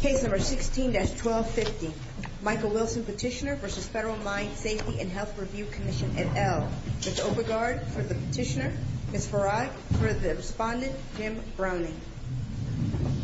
Case No. 16-1250 Michael Wilson Petitioner v. Federal Mine Safety and Health Review Commission, N.L. With Overguard for the Petitioner, Ms. Farad for the Respondent, Ms. Browning MSHR Case No. 16-1250 Michael Wilson Petitioner v. Federal Mine Safety and Health Review Commission, N.L. The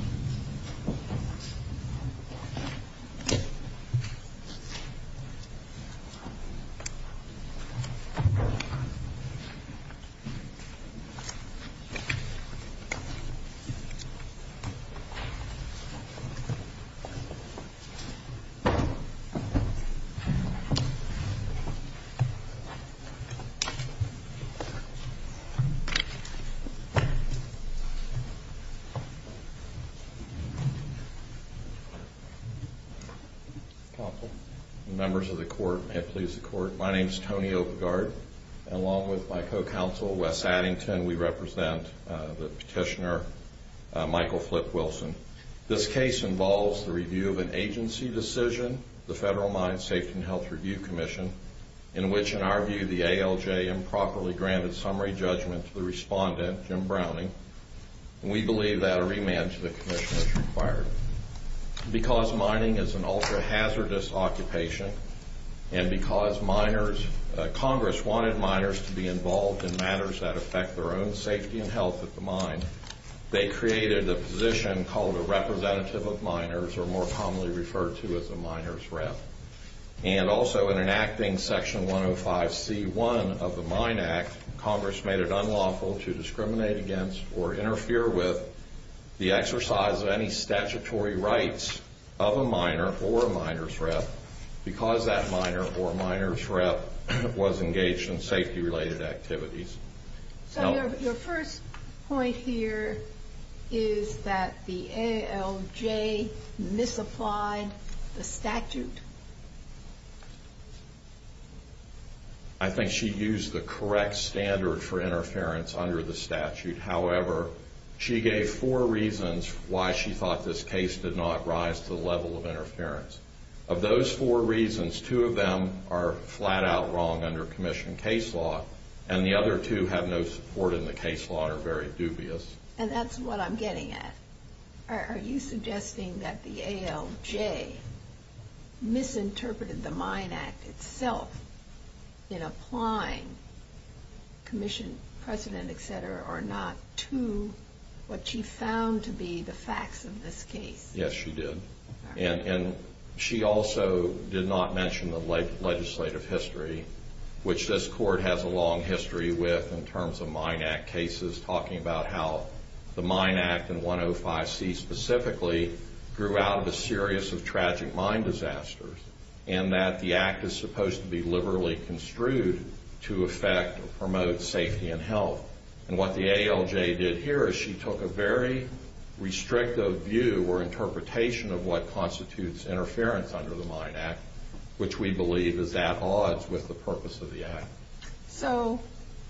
case involves the review of an agency decision, the Federal Mine Safety and Health Review Commission, in which, in our view, the ALJ improperly granted summary judgment to the Respondent, Jim Browning, and we believe that a re-management commission is required. Because mining is an ultra-hazardous occupation and because miners... Congress wanted miners to be involved in matters that affect their own safety and health at the mine, they created a position called the Representative of Miners, or more commonly referred to as the Miner's Rep. And also, in enacting Section 105c1 of the Mine Act, Congress made it unlawful to discriminate against or interfere with the exercise of any statutory rights of a miner or a Miner's Rep. because that miner or Miner's Rep. was engaged in safety-related activities. Your first point here is that the ALJ misapplied the statute. I think she used the correct standard for interference under the statute. However, she gave four reasons why she thought this case did not rise to the level of interference. Of those four reasons, two of them are flat-out wrong under commission case law, and the other two have no support in the case law and are very dubious. And that's what I'm getting at. Are you suggesting that the ALJ misinterpreted the Mine Act itself in applying commission precedent, etc., or not, to what she found to be the facts of this case? Yes, she did. And she also did not mention the legislative history, which this Court has a long history with in terms of Mine Act cases, talking about how the Mine Act, and 105c specifically, grew out of a series of tragic mine disasters, and that the Act is supposed to be liberally construed to affect or promote safety and health. And what the ALJ did here is she took a very restrictive view or interpretation of what constitutes interference under the Mine Act, which we believe is at odds with the purpose of the Act. So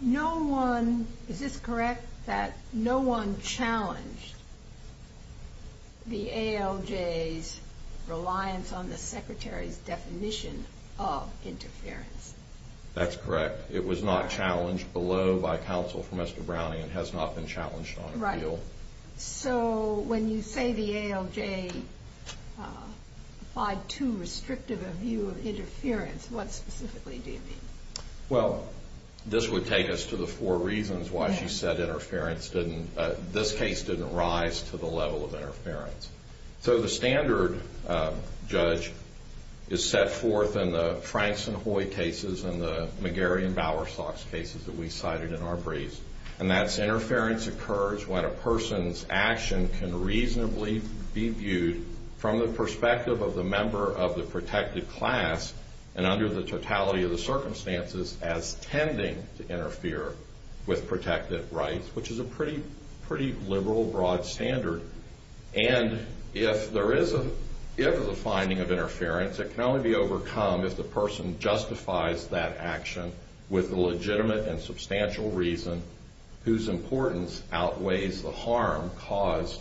no one, is this correct, that no one challenged the ALJ's reliance on the Secretary's definition of interference? That's correct. It was not challenged below by counsel for Mr. Browning. It has not been challenged on appeal. Right. So when you say the ALJ applied too restrictive a view of interference, what specifically do you mean? Well, this would take us to the four reasons why she said interference didn't, this case didn't rise to the level of interference. So the standard, Judge, is set forth in the Franks and Hoy cases and the McGarry and Bowersox cases that we cited in our briefs, and that's interference occurs when a person's action can reasonably be viewed from the perspective of the member of the protected class and under the totality of the circumstances as tending to interfere with protected rights, which is a pretty liberal, broad standard. And if there is a finding of interference, it can only be overcome if the person justifies that action with the legitimate and substantial reason whose importance outweighs the harm caused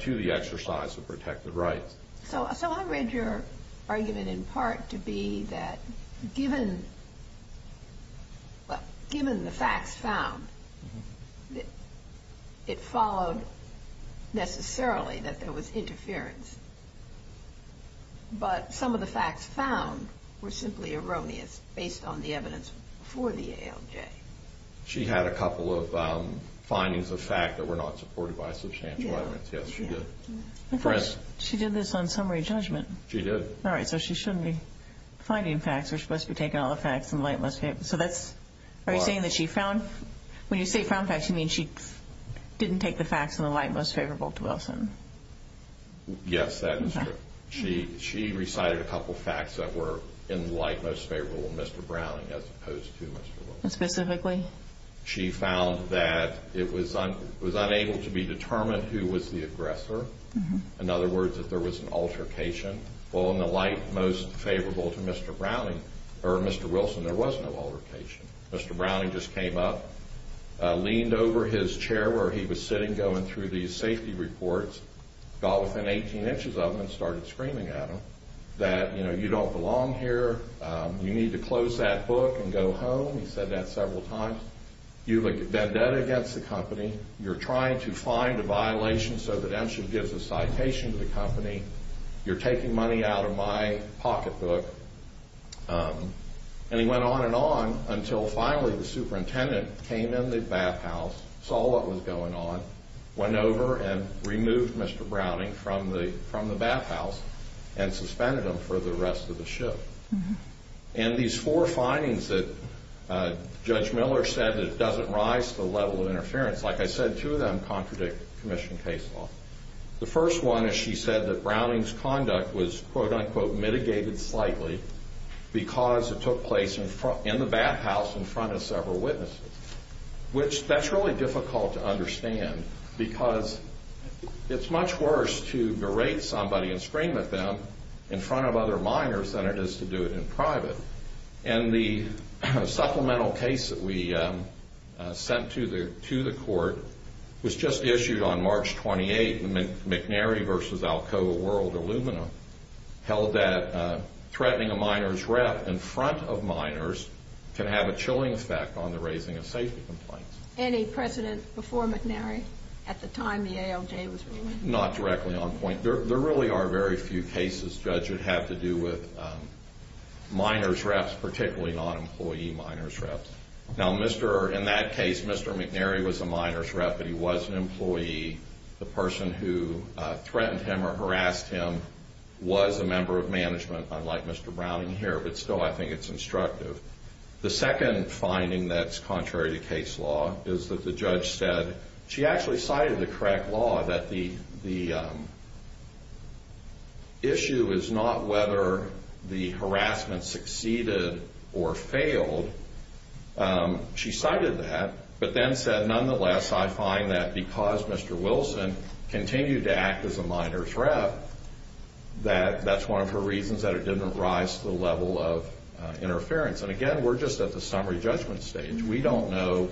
to the exercise of protected rights. So I read your argument in part to be that given the facts found, it followed necessarily that there was interference, but some of the facts found were simply erroneous based on the evidence for the ALJ. She had a couple of findings of fact that were not supported by substantial evidence. Yes, she did. She did this on summary judgment. She did. All right, so she shouldn't be finding facts. They're supposed to be taking all the facts from the light most favorable. So that's, are you saying that she found, when you say found facts, you mean she didn't take the facts in the light most favorable to Wilson? Yes, that is true. She recited a couple of facts that were in the light most favorable to Mr. Browning as opposed to Mr. Wilson. Specifically? She found that it was unable to be determined who was the aggressor. In other words, that there was an altercation. Well, in the light most favorable to Mr. Browning or Mr. Wilson, there was no altercation. Mr. Browning just came up, leaned over his chair where he was sitting going through these safety reports, got within 18 inches of him and started screaming at him that, you know, you don't belong here, you need to close that book and go home. He said that several times. You've been dead against the company. You're trying to find a violation so that M should get the citation to the company. You're taking money out of my pocketbook. And he went on and on until finally the superintendent came in the bathhouse, saw what was going on, went over and removed Mr. Browning from the bathhouse and suspended him for the rest of the shift. And these four findings that Judge Miller said that it doesn't rise to the level of interference, like I said, two of them contradict commission case law. The first one is she said that Browning's conduct was, quote, unquote, mitigated slightly because it took place in the bathhouse in front of several witnesses, which that's really difficult to understand because it's much worse to berate somebody and scream at them in front of other minors than it is to do it in private. And the supplemental case that we sent to the court was just issued on March 28th. McNary v. Alcoa World Aluminum held that threatening a minor's rep in front of minors could have a chilling effect on the raising of safety complaints. Any precedence before McNary at the time the ALJ was ruling? Not directly on point. There really are very few cases Judge would have to do with minors' reps, particularly non-employee minors' reps. Now, in that case, Mr. McNary was a minors' rep and he was an employee. The person who threatened him or harassed him was a member of management, unlike Mr. Browning here, but still I think it's instructive. The second finding that's contrary to case law is that the judge said she actually cited the correct law that the issue is not whether the harassment succeeded or failed. She cited that, but then said, nonetheless I find that because Mr. Wilson continued to act as a minors' rep, that that's one of the reasons that it didn't rise to the level of interference. And, again, we're just at the summary judgment stage. We don't know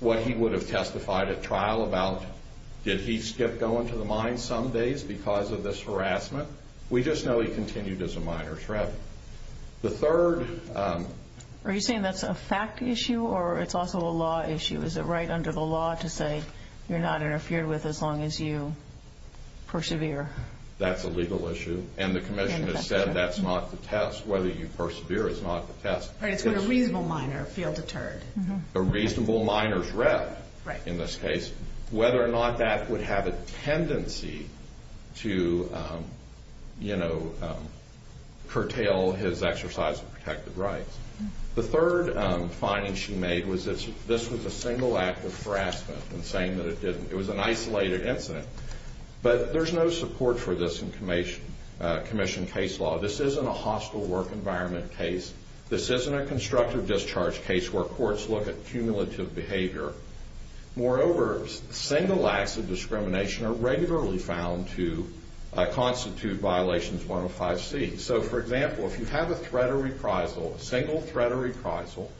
what he would have testified at trial about. Did he skip going to the mine some days because of this harassment? We just know he continued as a minors' rep. The third... Are you saying that's a fact issue or it's also a law issue? Is it right under the law to say you're not interfered with as long as you persevere? That's a legal issue, and the commission has said that's not the test. Whether you persevere is not the test. Right, it's whether a reasonable minor feels deterred. A reasonable minors' rep, in this case, whether or not that would have a tendency to, you know, curtail his exercise of protected rights. The third finding she made was that this was a single act of harassment and saying that it was an isolated incident. But there's no support for this in commission case law. This isn't a hospital work environment case. This isn't a constructive discharge case where courts look at cumulative behavior. Moreover, single acts of discrimination are regularly found to constitute Violations 105C. So, for example, if you have a threat of reprisal, a single threat of reprisal,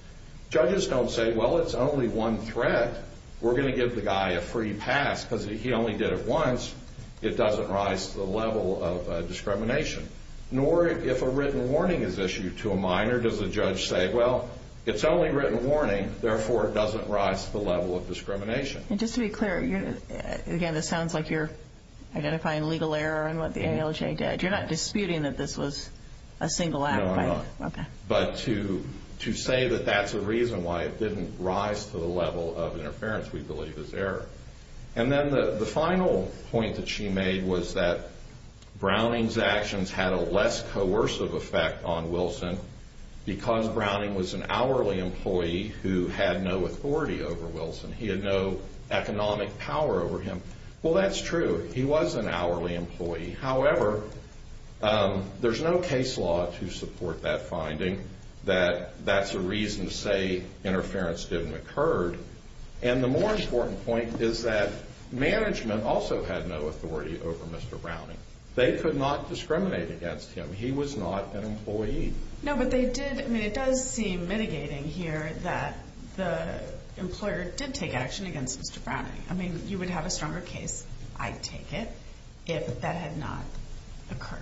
judges don't say, well, it's only one threat. We're going to give the guy a free pass because he only did it once. It doesn't rise to the level of discrimination. Nor if a written warning is issued to a minor does a judge say, well, it's only written warning, therefore it doesn't rise to the level of discrimination. And just to be clear, again, this sounds like you're identifying legal error in what the NLJ did. You're not disputing that this was a single act, right? No, no. Okay. But to say that that's a reason why it didn't rise to the level of interference we believe is error. And then the final point that she made was that Browning's actions had a less coercive effect on Wilson because Browning was an hourly employee who had no authority over Wilson. He had no economic power over him. Well, that's true. He was an hourly employee. However, there's no case law to support that finding that that's a reason to say interference didn't occur. And the more important point is that management also had no authority over Mr. Browning. They could not discriminate against him. He was not an employee. No, but they did. I mean, it does seem mitigating here that the employer did take action against Mr. Browning. I mean, you would have a stronger case, I take it, if that had not occurred.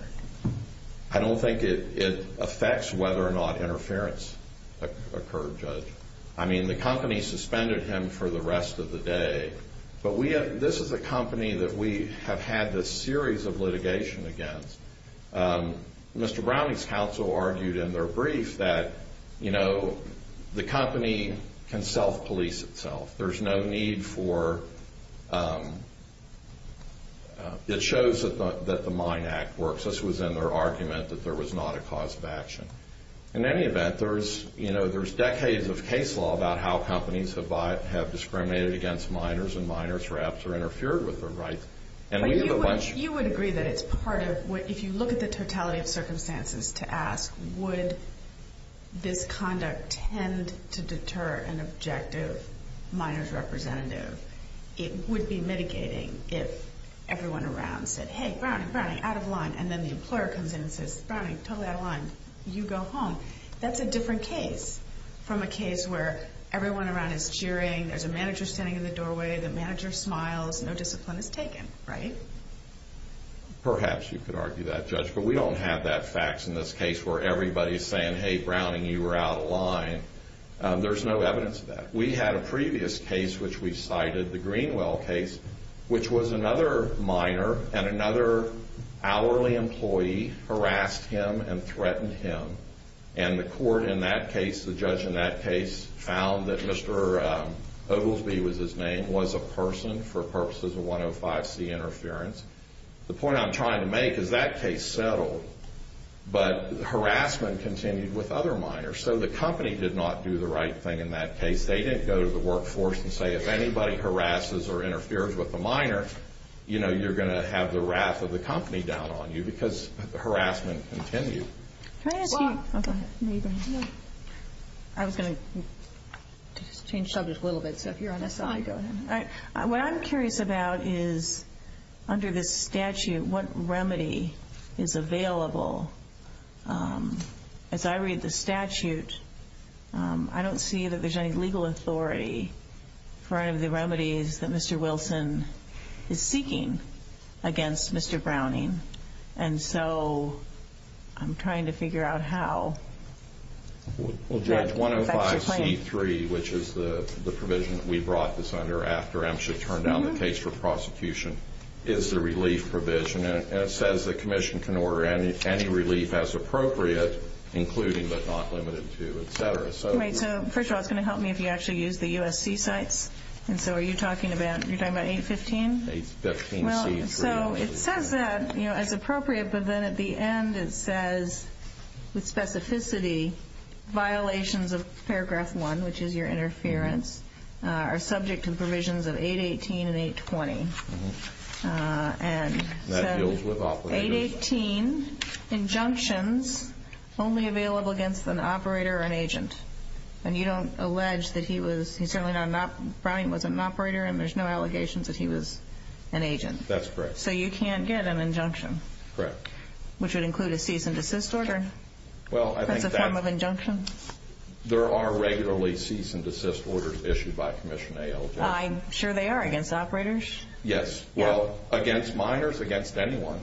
I mean, the company suspended him for the rest of the day. But this is a company that we have had this series of litigation against. Mr. Browning's counsel argued in their brief that, you know, the company can self-police itself. There's no need for – it shows that the Mine Act works. This was in their argument that there was not a cause of action. In any event, there's, you know, there's decades of case law about how companies have discriminated against minors and minors perhaps are interfered with their rights. You would agree that it's part of – if you look at the totality of circumstances to ask, would this conduct tend to deter an objective minor's representative, it would be mitigating if everyone around said, hey, Browning, Browning, out of line, and then the employer comes in and says, Browning, totally out of line, you go home. That's a different case from a case where everyone around is cheering, there's a manager standing in the doorway, the manager smiles, no discipline is taken, right? Perhaps you could argue that, Judge. But we don't have that fax in this case where everybody's saying, hey, Browning, you were out of line. There's no evidence of that. We had a previous case which we cited, the Greenwell case, which was another minor and another hourly employee harassed him and threatened him. And the court in that case, the judge in that case, found that Mr. Oglesby was his name, was a person for purposes of 105C interference. The point I'm trying to make is that case settled, but harassment continued with other minors. So the company did not do the right thing in that case. They didn't go to the workforce and say, if anybody harasses or interferes with a minor, you know, you're going to have the wrath of the company down on you because harassment continued. Can I ask you a question? I was going to change subjects a little bit, so if you're on this side, go ahead. What I'm curious about is, under the statute, what remedy is available? As I read the statute, I don't see that there's any legal authority for any of the remedies that Mr. Wilson is seeking against Mr. Browning. And so I'm trying to figure out how. Well, Judge, 105C3, which is the provision that we brought this under after MSHA turned down the case for prosecution, is the relief provision. And it says the commission can order any relief as appropriate, including but not limited to, et cetera. Wait, so first of all, can you help me if you actually use the USC site? And so are you talking about, you're talking about 815? 815C3. Well, so it says that, you know, as appropriate, but then at the end it says, with specificity, violations of paragraph one, which is your interference, are subject to provisions of 818 and 820. And 818, injunctions, only available against an operator or an agent. And you don't allege that he was, you certainly are not, Browning was an operator and there's no allegations that he was an agent. That's correct. So you can't get an injunction. Correct. Which would include a cease and desist order. Well, I think that's. Is that the term of injunction? There are regularly cease and desist orders issued by a commission to an agent. I'm sure they are against operators. Yes. Well, against minors, against anyone.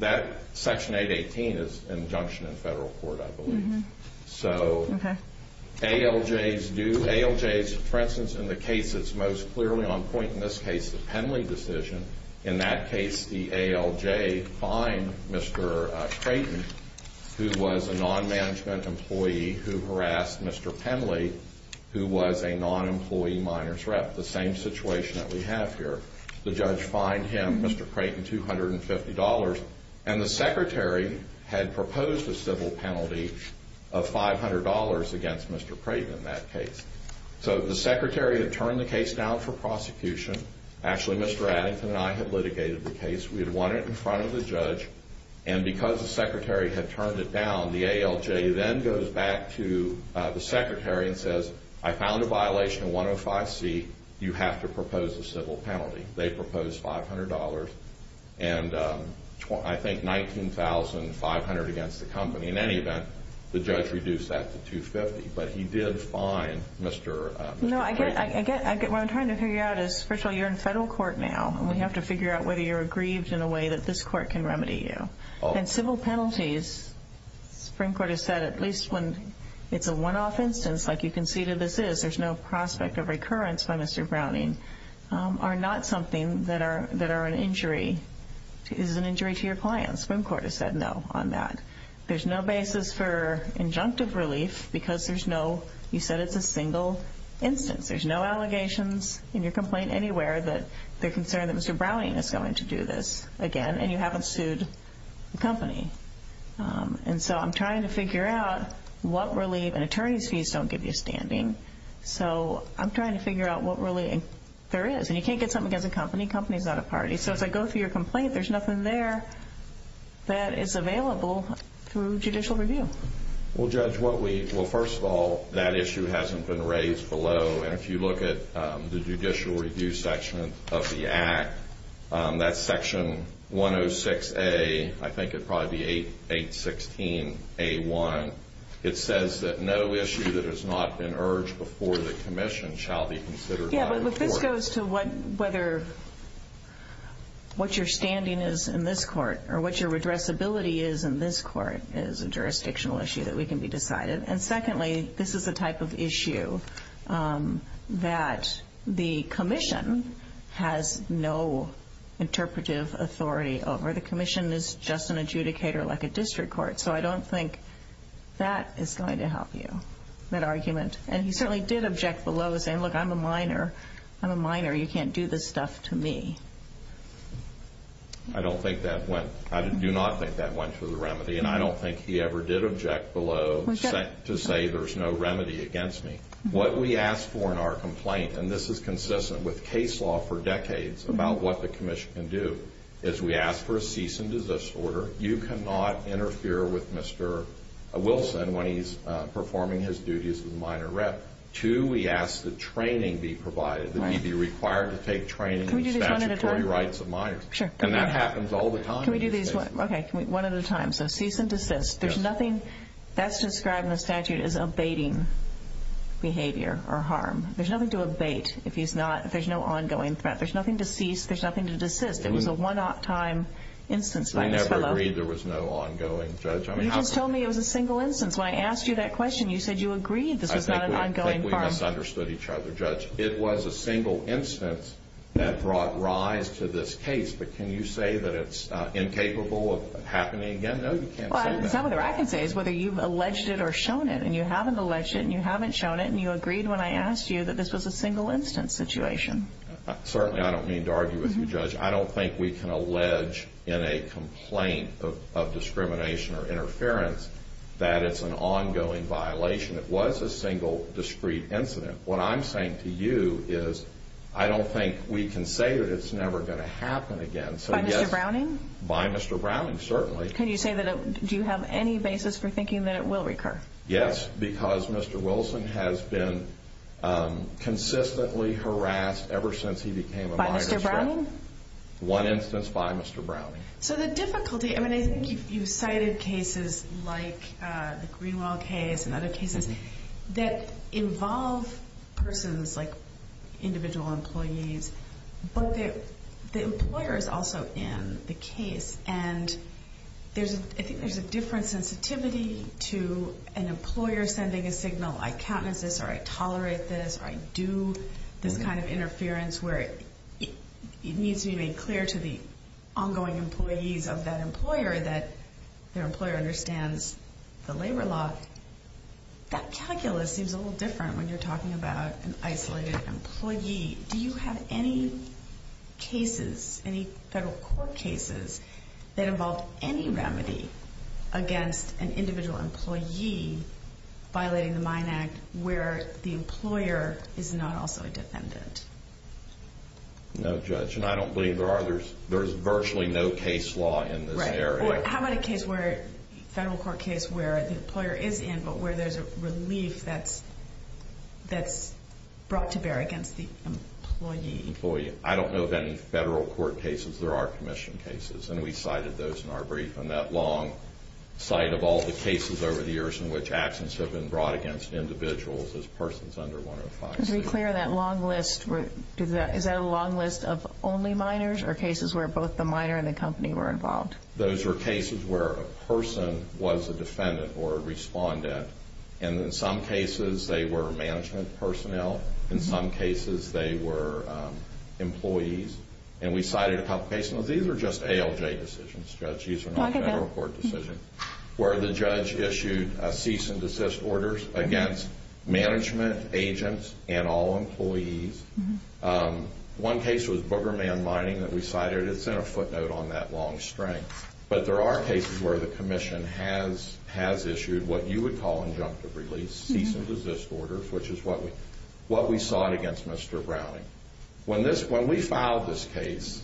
That section 818 is injunction in federal court, I believe. So ALJs do, ALJs, for instance, in the case that's most clearly on point in this case, the Penley decision, in that case the ALJ fined Mr. Creighton, who was a non-management employee who harassed Mr. Penley, who was a non-employee minors rep. The same situation that we have here. The judge fined him, Mr. Creighton, $250. And the secretary had proposed a civil penalty of $500 against Mr. Creighton in that case. So the secretary had turned the case down for prosecution. Actually, Mr. Addington and I had litigated the case. We had won it in front of the judge. And because the secretary had turned it down, the ALJ then goes back to the secretary and says, I found a violation of 105C. You have to propose a civil penalty. They proposed $500 and I think $19,500 against the company. In any event, the judge reduced that to $250. But he did fine Mr. Creighton. No, what I'm trying to figure out is, first of all, you're in federal court now. We have to figure out whether you're aggrieved in a way that this court can remedy you. And civil penalties, the Supreme Court has said, at least when it's a one-off instance, like you can see that this is, there's no prospect of recurrence by Mr. Browning, are not something that are an injury. It is an injury to your client. The Supreme Court has said no on that. There's no basis for injunctive relief because there's no, you said it's a single instance. There's no allegations in your complaint anywhere that they're concerned that Mr. Browning is going to do this again and you haven't sued the company. And so I'm trying to figure out what relief. And attorneys fees don't give you standing. So I'm trying to figure out what relief there is. And you can't get something against the company. The company is not a party. So if I go through your complaint, there's nothing there that is available through judicial review. Well, Judge, what we, well, first of all, that issue hasn't been raised below. And if you look at the judicial review section of the act, that's section 106A, I think it'd probably be 816A1. It says that no issue that has not been urged before the commission shall be considered by the court. Well, look, this goes to whether what your standing is in this court or what your redressability is in this court is a jurisdictional issue that we can be decided. And secondly, this is the type of issue that the commission has no interpretive authority over. The commission is just an adjudicator like a district court. So I don't think that is going to help you, that argument. And he certainly did object below saying, look, I'm a minor. I'm a minor. You can't do this stuff to me. I don't think that went, I do not think that went to the remedy. And I don't think he ever did object below to say there's no remedy against me. What we ask for in our complaint, and this is consistent with case law for decades about what the commission can do, is we ask for a cease and desist order. You cannot interfere with Mr. Wilson when he's performing his duties as a minor rep. Two, we ask that training be provided, that he be required to take training in the statutory rights of minors. And that happens all the time. Okay, one at a time. So cease and desist. There's nothing that's described in the statute as abating behavior or harm. There's nothing to abate if there's no ongoing threat. There's nothing to cease. There's nothing to desist. It was a one-off time instance. We never agreed there was no ongoing, Judge. You just told me it was a single instance. When I asked you that question, you said you agreed this was not an ongoing harm. I think we misunderstood each other, Judge. It was a single instance that brought rise to this case. But can you say that it's incapable of happening again? No, you can't say that. Well, the only thing I can say is whether you've alleged it or shown it. And you haven't alleged it, and you haven't shown it, and you agreed when I asked you that this was a single instance situation. Certainly I don't need to argue with you, Judge. I don't think we can allege in a complaint of discrimination or interference that it's an ongoing violation. It was a single, discrete incident. What I'm saying to you is I don't think we can say that it's never going to happen again. By Mr. Browning? By Mr. Browning, certainly. Can you say that it – do you have any basis for thinking that it will recur? Yes, because Mr. Wilson has been consistently harassed ever since he became a minor suspect. By Mr. Browning? One instance by Mr. Browning. So the difficulty – I mean, I think you cited cases like the Greenwell case and other cases that involve persons like individual employees, but the employer is also in the case. And I think there's a different sensitivity to an employer sending a signal, I count as this or I tolerate this or I do, this kind of interference where it needs to be made clear to the ongoing employees of that employer that their employer understands the labor law. That calculus seems a little different when you're talking about an isolated employee. Do you have any cases, any federal court cases, that involve any remedy against an individual employee violating the MINE Act where the employer is not also a defendant? No, Judge, and I don't believe there are. There's virtually no case law in this area. How about a case where – a federal court case where the employer is in, but where there's a relief that's brought to bear against the employee? I don't know of any federal court cases. There are commission cases, and we cited those in our brief on that long site of all the cases over the years in which actions have been brought against individuals as persons under 105. Just to be clear, that long list, is that a long list of only minors or cases where both the minor and the company were involved? Those are cases where a person was a defendant or a respondent, and in some cases they were management personnel. In some cases they were employees. And we cited a couple of cases. Now, these are just ALJ decisions, Judge. These are not federal court decisions. Where the judge issued a cease and desist order against management agents and all employees. One case was Booger Man Mining that we cited. It's in a footnote on that long string. But there are cases where the commission has issued what you would call injunctive release, cease and desist orders, which is what we sought against Mr. Browning. When we filed this case,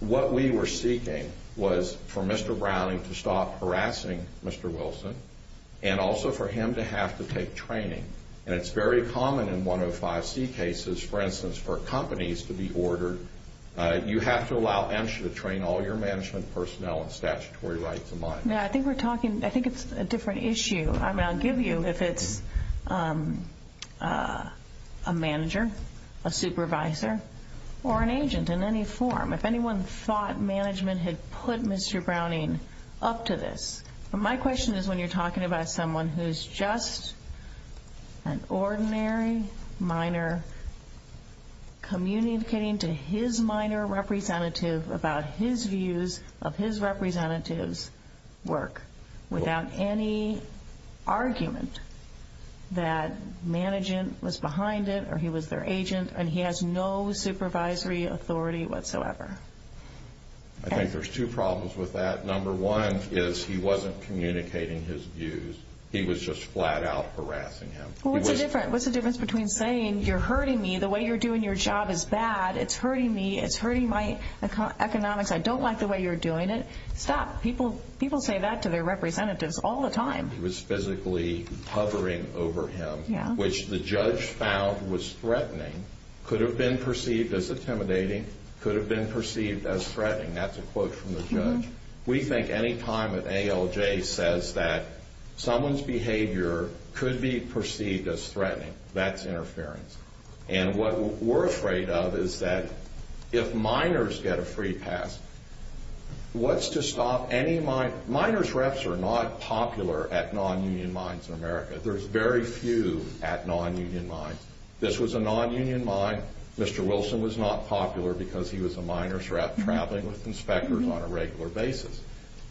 what we were seeking was for Mr. Browning to stop harassing Mr. Wilson and also for him to have to take training. And it's very common in 105C cases, for instance, for companies to be ordered, you have to allow MSHA to train all your management personnel in statutory right to mine. Yeah, I think we're talking, I think it's a different issue. I mean, I'll give you if it's a manager, a supervisor, or an agent in any form. If anyone thought management had put Mr. Browning up to this. My question is when you're talking about someone who's just an ordinary miner communicating to his miner representative about his views of his representative's work without any argument that management was behind it or he was their agent and he has no supervisory authority whatsoever. I think there's two problems with that. Number one is he wasn't communicating his views. He was just flat out harassing him. What's the difference between saying you're hurting me, the way you're doing your job is bad, it's hurting me, it's hurting my economics, I don't like the way you're doing it. Stop. People say that to their representatives all the time. He was physically hovering over him, which the judge found was threatening, could have been perceived as intimidating, could have been perceived as threatening. That's a quote from the judge. We think any time an ALJ says that someone's behavior could be perceived as threatening, that's interference. And what we're afraid of is that if miners get a free pass, what's to stop any miner? Miners reps are not popular at non-union mines in America. There's very few at non-union mines. This was a non-union mine. Mr. Wilson was not popular because he was a miners rep traveling with inspectors on a regular basis.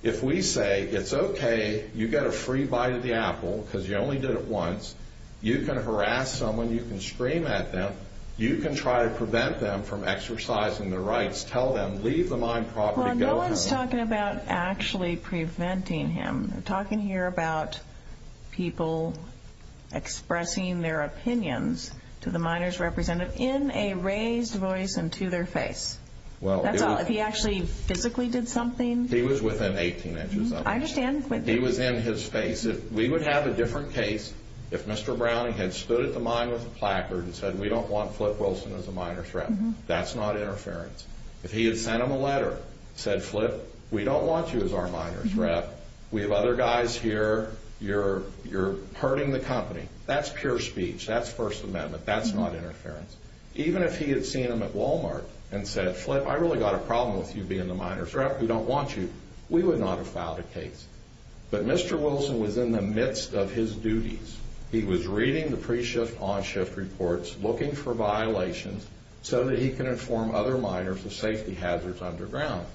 If we say it's okay, you get a free bite of the apple because you only did it once, you can harass someone, you can scream at them, you can try to prevent them from exercising their rights. Tell them, leave the mine properly going. Well, no one is talking about actually preventing him. We're talking here about people expressing their opinions to the miners representative in a raised voice and to their face. That's all. If he actually physically did something? He was within 18 inches of us. I understand. He was in his face. We would have a different case if Mr. Browning had stood at the mine with a placard and said we don't want Flip Wilson as a miners rep. That's not interference. If he had sent him a letter, said Flip, we don't want you as our miners rep, we have other guys here, you're hurting the company. That's pure speech. That's First Amendment. That's not interference. Even if he had seen him at Walmart and said, Flip, I really got a problem with you being a miners rep. We don't want you. We would not have filed a case. But Mr. Wilson was in the midst of his duties. He was reading the pre-shift, on-shift reports, looking for violations so that he can inform other miners of safety hazards underground.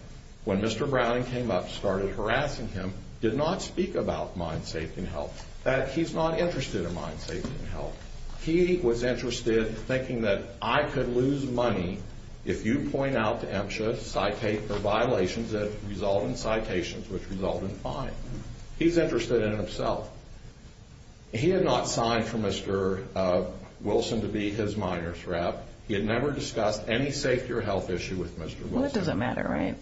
When Mr. Browning came up and started harassing him, he did not speak about mine safety and health. In fact, he's not interested in mine safety and health. He was interested in thinking that I could lose money if you point out to MSHA violations that result in citations which result in fines. He's interested in himself. He had not signed for Mr. Wilson to be his miners rep. Well, it doesn't matter, right?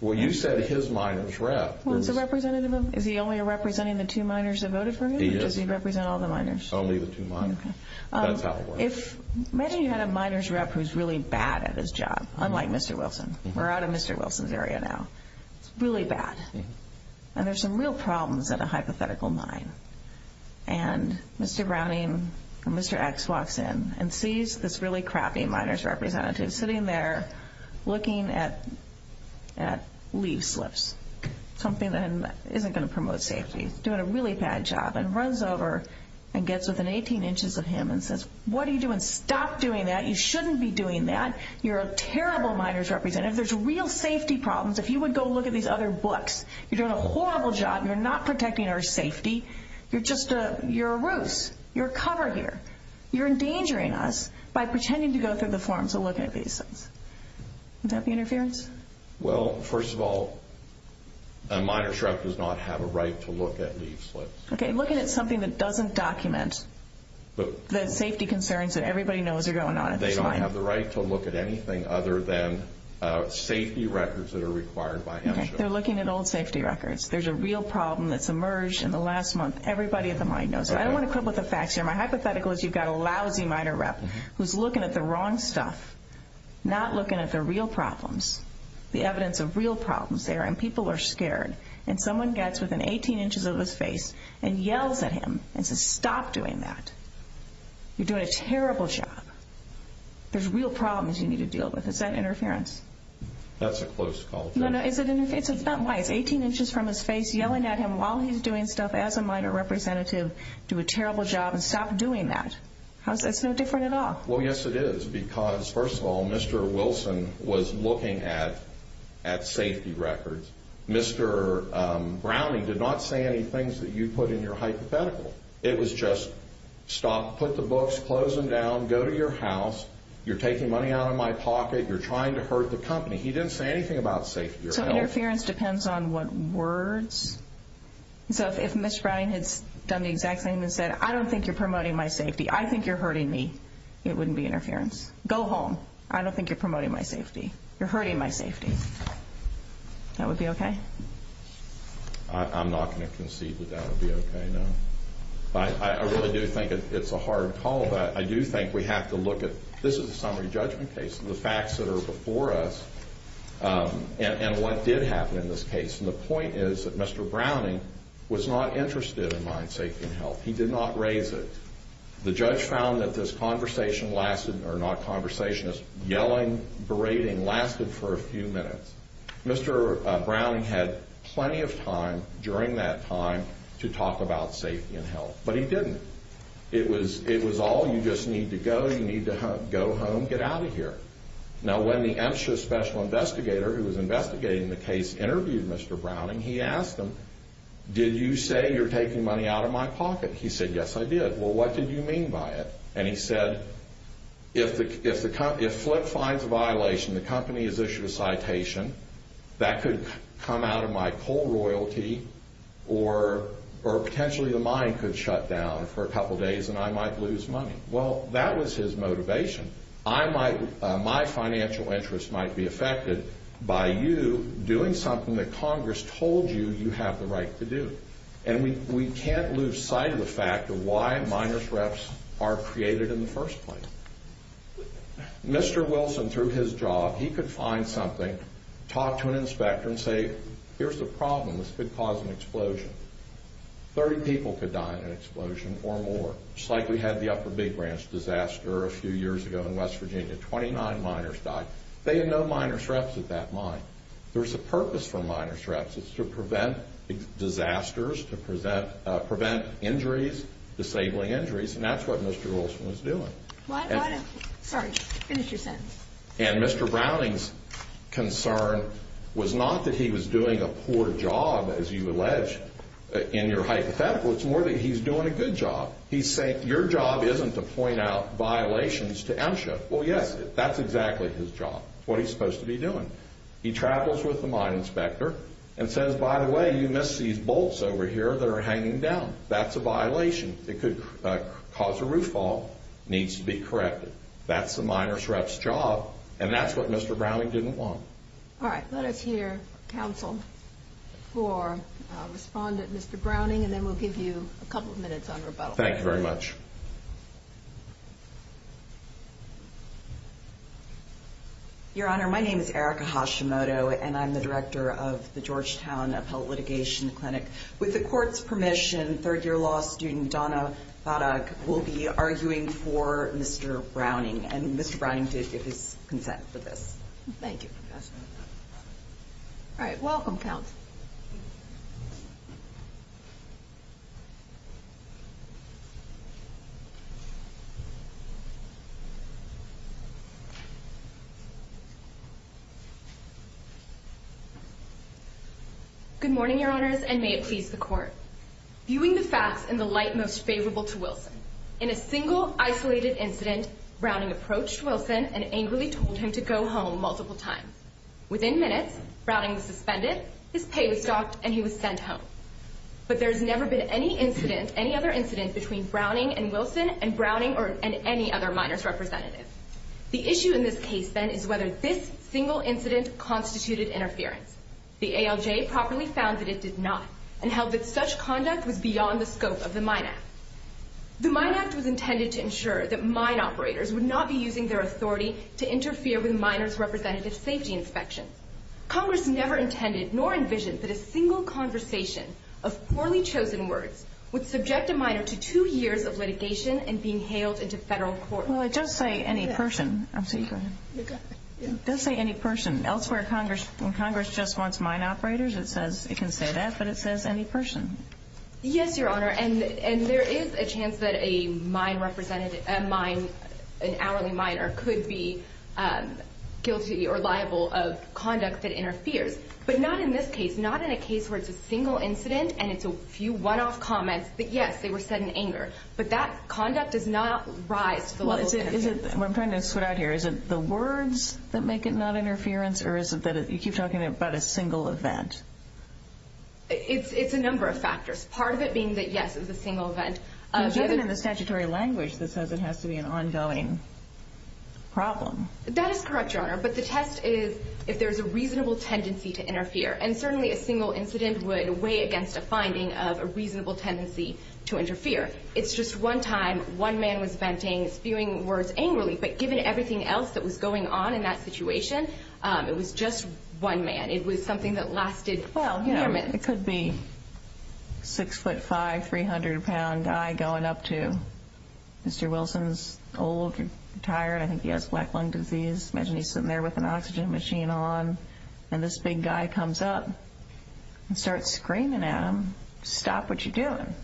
Well, you said his miners rep. Was the representative of him? Is he only representing the two miners that voted for him? He is. Does he represent all the miners? Only the two miners. Okay. If many had a miners rep who's really bad at his job, unlike Mr. Wilson. We're out of Mr. Wilson's area now. Really bad. And there's some real problems at a hypothetical mine. And Mr. Browning and Mr. X walks in and sees this really crappy miners representative sitting there looking at leaf slips, something that isn't going to promote safety. Doing a really bad job. And runs over and gets within 18 inches of him and says, What are you doing? Stop doing that. You shouldn't be doing that. You're a terrible miners representative. There's real safety problems. If you would go look at these other books. You're doing a horrible job. You're not protecting our safety. You're a ruse. You're a cover here. You're endangering us by pretending to go through the forms to look at these things. Is that the interference? Well, first of all, a miner's rep does not have a right to look at leaf slips. Okay. Looking at something that doesn't document the safety concerns that everybody knows are going on. They don't have the right to look at anything other than safety records that are required by him. They're looking at old safety records. There's a real problem that's emerged in the last month. Everybody at the mine knows it. I don't want to quibble with the facts here. My hypothetical is you've got a lousy miner rep who's looking at the wrong stuff, not looking at the real problems, the evidence of real problems there. And people are scared. And someone gets within 18 inches of his face and yells at him and says, Stop doing that. You're doing a terrible job. There's real problems you need to deal with. Is that interference? That's a close call. No, no. 18 inches from his face, yelling at him while he's doing stuff as a miner representative, do a terrible job and stop doing that. It's no different at all. Well, yes, it is. Because, first of all, Mr. Wilson was looking at safety records. Mr. Browning did not say any things that you put in your hypothetical. It was just stop, put the books, close them down, go to your house, you're taking money out of my pocket, you're trying to hurt the company. He didn't say anything about safety or health. So interference depends on what words? So if Mr. Browning had done the exact same and said, I don't think you're promoting my safety, I think you're hurting me, it wouldn't be interference. Go home. I don't think you're promoting my safety. You're hurting my safety. That would be okay? I'm not going to concede that that would be okay, no. I really do think it's a hard call. I do think we have to look at this is a summary judgment case. The facts that are before us and what did happen in this case. And the point is that Mr. Browning was not interested in my safety and health. He did not raise it. The judge found that this conversation lasted, or not conversation, this yelling, berating lasted for a few minutes. Mr. Browning had plenty of time during that time to talk about safety and health. But he didn't. It was all you just need to go, you need to go home, get out of here. Now, when the MSHA Special Investigator, who was investigating the case, interviewed Mr. Browning, he asked him, did you say you're taking money out of my pocket? He said, yes, I did. Well, what did you mean by it? And he said, if Flip finds a violation, the company has issued a citation, that could come out of my coal royalty, or potentially the mine could shut down for a couple days and I might lose money. Well, that was his motivation. My financial interest might be affected by you doing something that Congress told you you have the right to do. And we can't lose sight of the fact of why miners' wrecks are created in the first place. Mr. Wilson, through his job, he could find something, talk to an inspector and say, here's the problem, this could cause an explosion. 30 people could die in an explosion or more. Just like we had the Upper Big Branch disaster a few years ago in West Virginia. Twenty-nine miners died. They had no miners' wrecks at that mine. There's a purpose for miners' wrecks. It's to prevent disasters, to prevent injuries, disabling injuries, and that's what Mr. Wilson was doing. Sorry, finish your sentence. And Mr. Browning's concern was not that he was doing a poor job, as you allege, in your hypothetical, it's more that he's doing a good job. He's saying your job isn't to point out violations to MSHA. Well, yes, that's exactly his job, what he's supposed to be doing. He travels with the mine inspector and says, by the way, you missed these bolts over here that are hanging down. That's a violation. It could cause a roof fall, needs to be corrected. That's the miners' wrecks job, and that's what Mr. Browning didn't want. All right. Let us hear counsel for respondent Mr. Browning, and then we'll give you a couple of minutes on rebuttal. Thank you very much. Your Honor, my name is Erica Hashimoto, and I'm the director of the Georgetown Appellate Litigation Clinic. With the court's permission, third-year law student Donna Hodduk will be arguing for Mr. Browning, and Mr. Browning gives his consent to this. Thank you. All right. Welcome, counsel. Good morning, Your Honors, and may it please the court. Viewing the facts in the light most favorable to Wilson, in a single isolated incident, Browning approached Wilson and angrily told him to go home multiple times. Within minutes, Browning was suspended, his pay was dropped, and he was sent home. But there has never been any incident, any other incident between Browning and Wilson and Browning and any other miners' representative. The issue in this case, then, is whether this single incident constituted interference. The ALJ properly found that it did not, and held that such conduct was beyond the scope of the Mine Act. The Mine Act was intended to ensure that mine operators would not be using their authority to interfere with miners' representative's safety inspection. Congress never intended nor envisioned that a single conversation of poorly chosen words would subject a miner to two years of litigation and be hailed into federal court. Well, it does say any person. I'm sorry. It does say any person. Elsewhere, when Congress just wants mine operators, it can say that, but it says any person. Yes, Your Honor. And there is a chance that a mine representative, an alleyway miner, could be guilty or liable of conduct that interferes. But not in this case, not in a case where it's a single incident and it's a few one-off comments that, yes, they were said in anger. But that conduct does not rise to the level of interference. I'm trying to sort out here. Is it the words that make it not interference, or is it that you keep talking about a single event? It's a number of factors. Part of it being that, yes, it was a single event. Given the statutory language, this has to be an ongoing problem. That is correct, Your Honor. But the test is if there's a reasonable tendency to interfere. And certainly a single incident would weigh against a finding of a reasonable tendency to interfere. It's just one time one man was venting, spewing words angrily, but given everything else that was going on in that situation, it was just one man. It was something that lasted, well, four minutes. It could be a 6'5", 300-pound guy going up to Mr. Wilson's old tire. I think he has black lung disease. Imagine he's sitting there with an oxygen machine on. And this big guy comes up and starts screaming at him, stop what you're doing.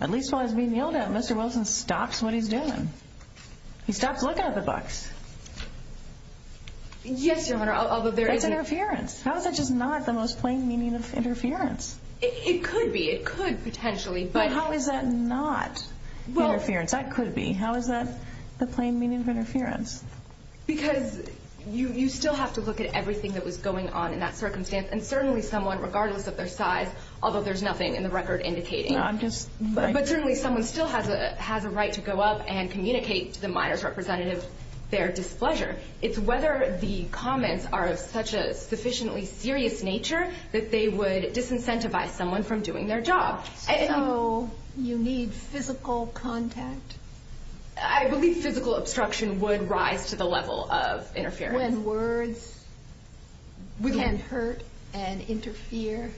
At least while he's being yelled at, Mr. Wilson stops what he's doing. He stops looking at the box. Yes, Your Honor, although there is interference. How is that just not the most plain meaning of interference? It could be. It could potentially. But how is that not interference? That could be. How is that the plain meaning of interference? Because you still have to look at everything that was going on in that circumstance, and certainly someone, regardless of their size, although there's nothing in the record indicating it, but certainly someone still has a right to go up and communicate to the minor's representative their displeasure. It's whether the comments are of such a sufficiently serious nature that they would disincentivize someone from doing their job. So you need physical contact? I believe physical obstruction would rise to the level of interference. When words can hurt and interfere?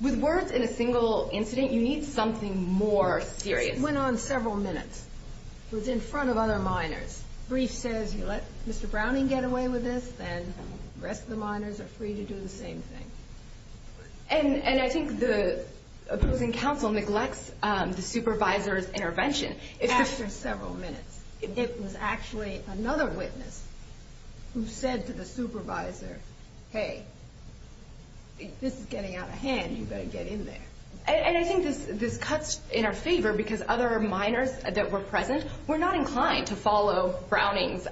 With words in a single incident, you need something more serious. It went on several minutes. It was in front of other minors. Brie says, you let Mr. Browning get away with this, and the rest of the minors are free to do the same thing. And I think the opposing counsel neglects the supervisor's intervention. After several minutes. This was actually another witness who said to the supervisor, hey, if this is getting out of hand, you better get in there. And I think this cuts in our favor because other minors that were present were not inclined to follow Browning's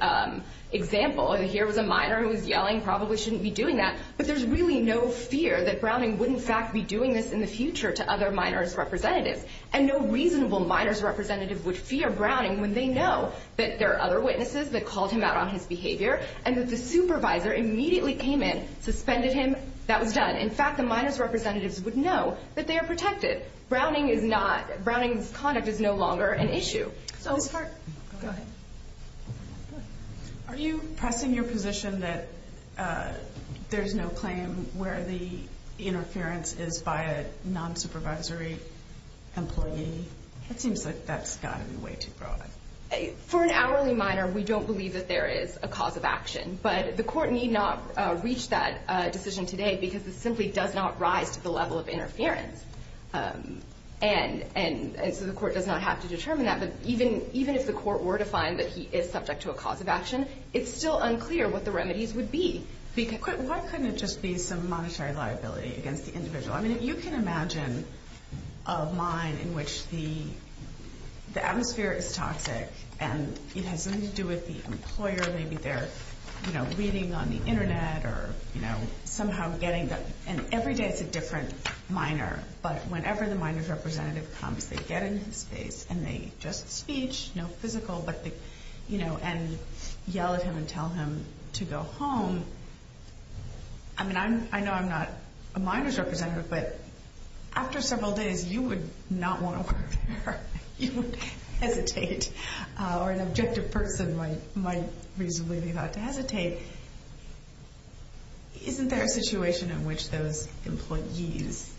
example. And here was a minor who was yelling, probably shouldn't be doing that. But there's really no fear that Browning would, in fact, be doing this in the future to other minors' representatives. And no reasonable minors' representative would fear Browning when they know that there are other witnesses that called him out on his behavior and that the supervisor immediately came in, suspended him, that was done. In fact, the minors' representatives would know that they are protected. Browning's conduct is no longer an issue. Go ahead. Are you pressing your position that there's no claim where the interference is by a non-supervisory employee? It seems like that's gotten way too broad. For an hourly minor, we don't believe that there is a cause of action. But the court need not reach that decision today because it simply does not rise to the level of interference. And so the court does not have to determine that. But even if the court were to find that he is subject to a cause of action, it's still unclear what the remedies would be. Why couldn't it just be some monetary liability against the individual? I mean, if you can imagine a line in which the atmosphere is toxic and it has nothing to do with the employer, maybe they're, you know, reading on the Internet or, you know, somehow getting the – and every day it's a different minor. But whenever the minors' representative comes, they get in his face and they just speech, no physical, you know, and yell at him and tell him to go home. I mean, I know I'm not a minor's representative, but after several days, you would not want to work there. You would hesitate. Or an objective person might reasonably be allowed to hesitate. Isn't there a situation in which those employees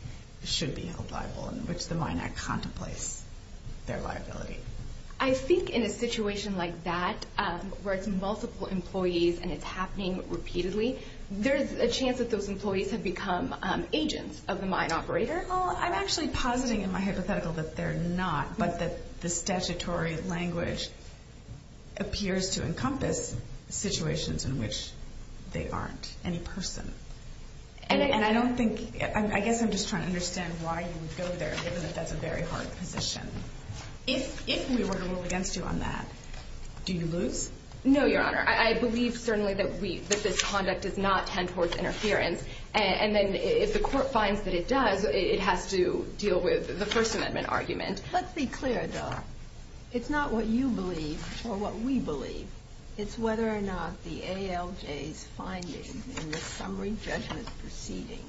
should be held liable and which the minor contemplates their liability? I think in a situation like that where it's multiple employees and it's happening repeatedly, there's a chance that those employees have become agents of the mine operator. I'm actually positing in my hypothetical that they're not, but that the statutory language appears to encompass situations in which they aren't in person. And I don't think – I guess I'm just trying to understand why you would go there, given that that's a very hard position. If we were to rule against you on that, do you lose? No, Your Honor. I believe certainly that we – that this conduct does not tend towards interference. And then if the court finds that it does, it has to deal with the First Amendment argument. Let's be clear, Dawn. It's not what you believe or what we believe. It's whether or not the ALJ's findings in the summary judgment proceeding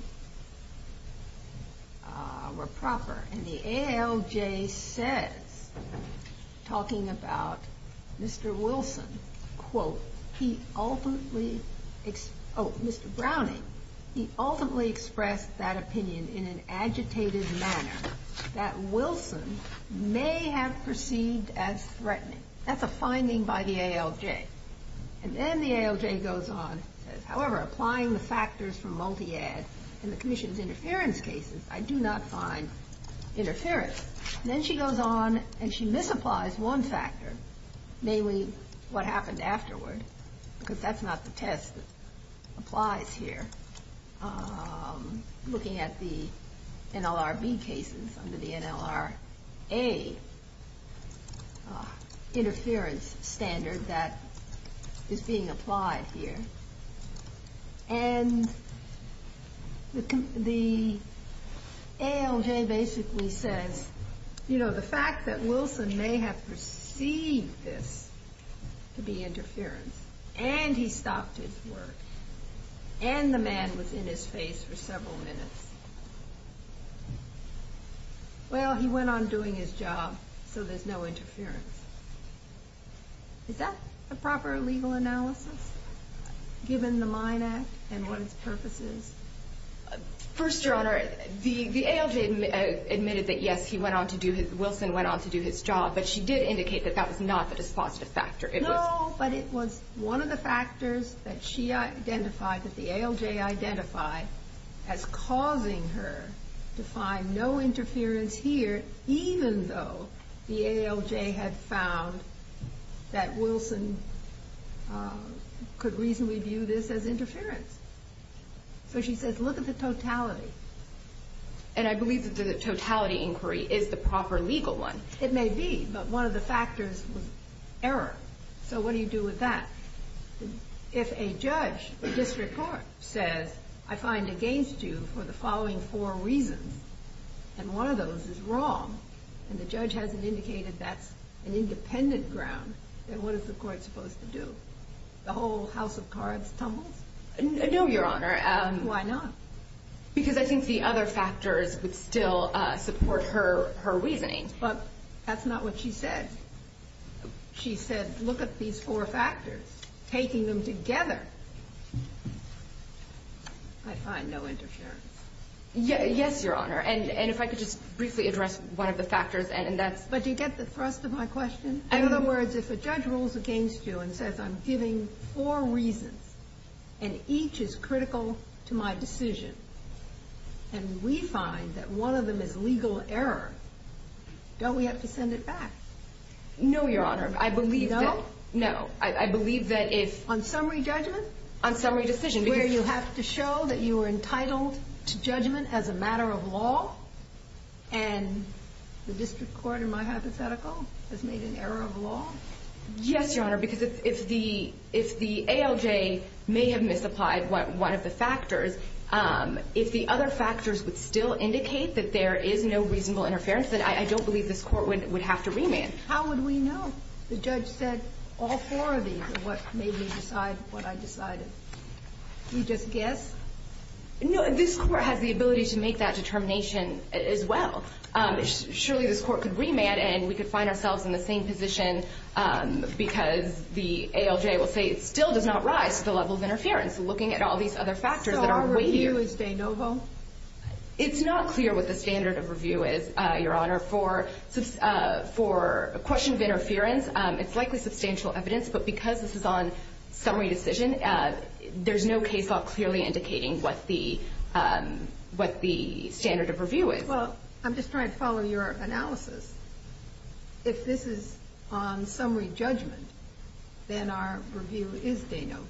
were proper. And the ALJ said, talking about Mr. Wilson, quote, he ultimately – oh, Mr. Browning, he ultimately expressed that opinion in an agitated manner that Wilson may have perceived as threatening. That's a finding by the ALJ. And then the ALJ goes on and says, however, applying the factors from multi-ad and the conditions of interference cases, I do not find interference. And then she goes on and she misapplies one factor, namely what happened afterwards, because that's not the test that applies here, looking at the NLRB cases under the NLRA interference standard that is being applied here. And the ALJ basically said, you know, the fact that Wilson may have perceived this to be interference, and he stopped his work, and the man was in his face for several minutes. Well, he went on doing his job, so there's no interference. Is that a proper legal analysis, given the Mine Act and one's purposes? First, Your Honor, the ALJ admitted that, yes, he went on to do his – Wilson went on to do his job, but she did indicate that that was not the dispositive factor. No, but it was one of the factors that she identified, that the ALJ identified, as causing her to find no interference here, even though the ALJ had found that Wilson could reasonably view this as interference. But she says, look at the totality. And I believe that the totality inquiry is the proper legal one. It may be, but one of the factors was error. So what do you do with that? If a judge, a district court, says, I find against you for the following four reasons, and one of those is wrong, and the judge hasn't indicated that's an independent ground, then what is the court supposed to do? The whole house of cards tumble? No, Your Honor. Why not? Because I think the other factors would still support her reasoning, but that's not what she said. She said, look at these four factors, taking them together. I find no interference. Yes, Your Honor, and if I could just briefly address one of the factors. But do you get the thrust of my question? In other words, if a judge rules against you and says, I'm giving four reasons, and each is critical to my decision, and we find that one of them is legal error, don't we have to send it back? No, Your Honor. You don't? No. On summary judgment? On summary decision. Where you have to show that you were entitled to judgment as a matter of law, Yes, Your Honor, because if the ALJ may have misapplied one of the factors, if the other factors would still indicate that there is no reasonable interference, then I don't believe this court would have to remand. How would we know? The judge said all four of these are what made me decide what I decided. Can we just guess? No, this court has the ability to make that determination as well. Surely this court could remand and we could find ourselves in the same position because the ALJ will say it still does not rise to the level of interference, looking at all these other factors that are with you. So our review is de novo? It's not clear what the standard of review is, Your Honor. For questions of interference, it's likely substantial evidence, but because this is on summary decision, there's no case law clearly indicating what the standard of review is. Well, I'm just trying to follow your analysis. If this is on summary judgment, then our review is de novo.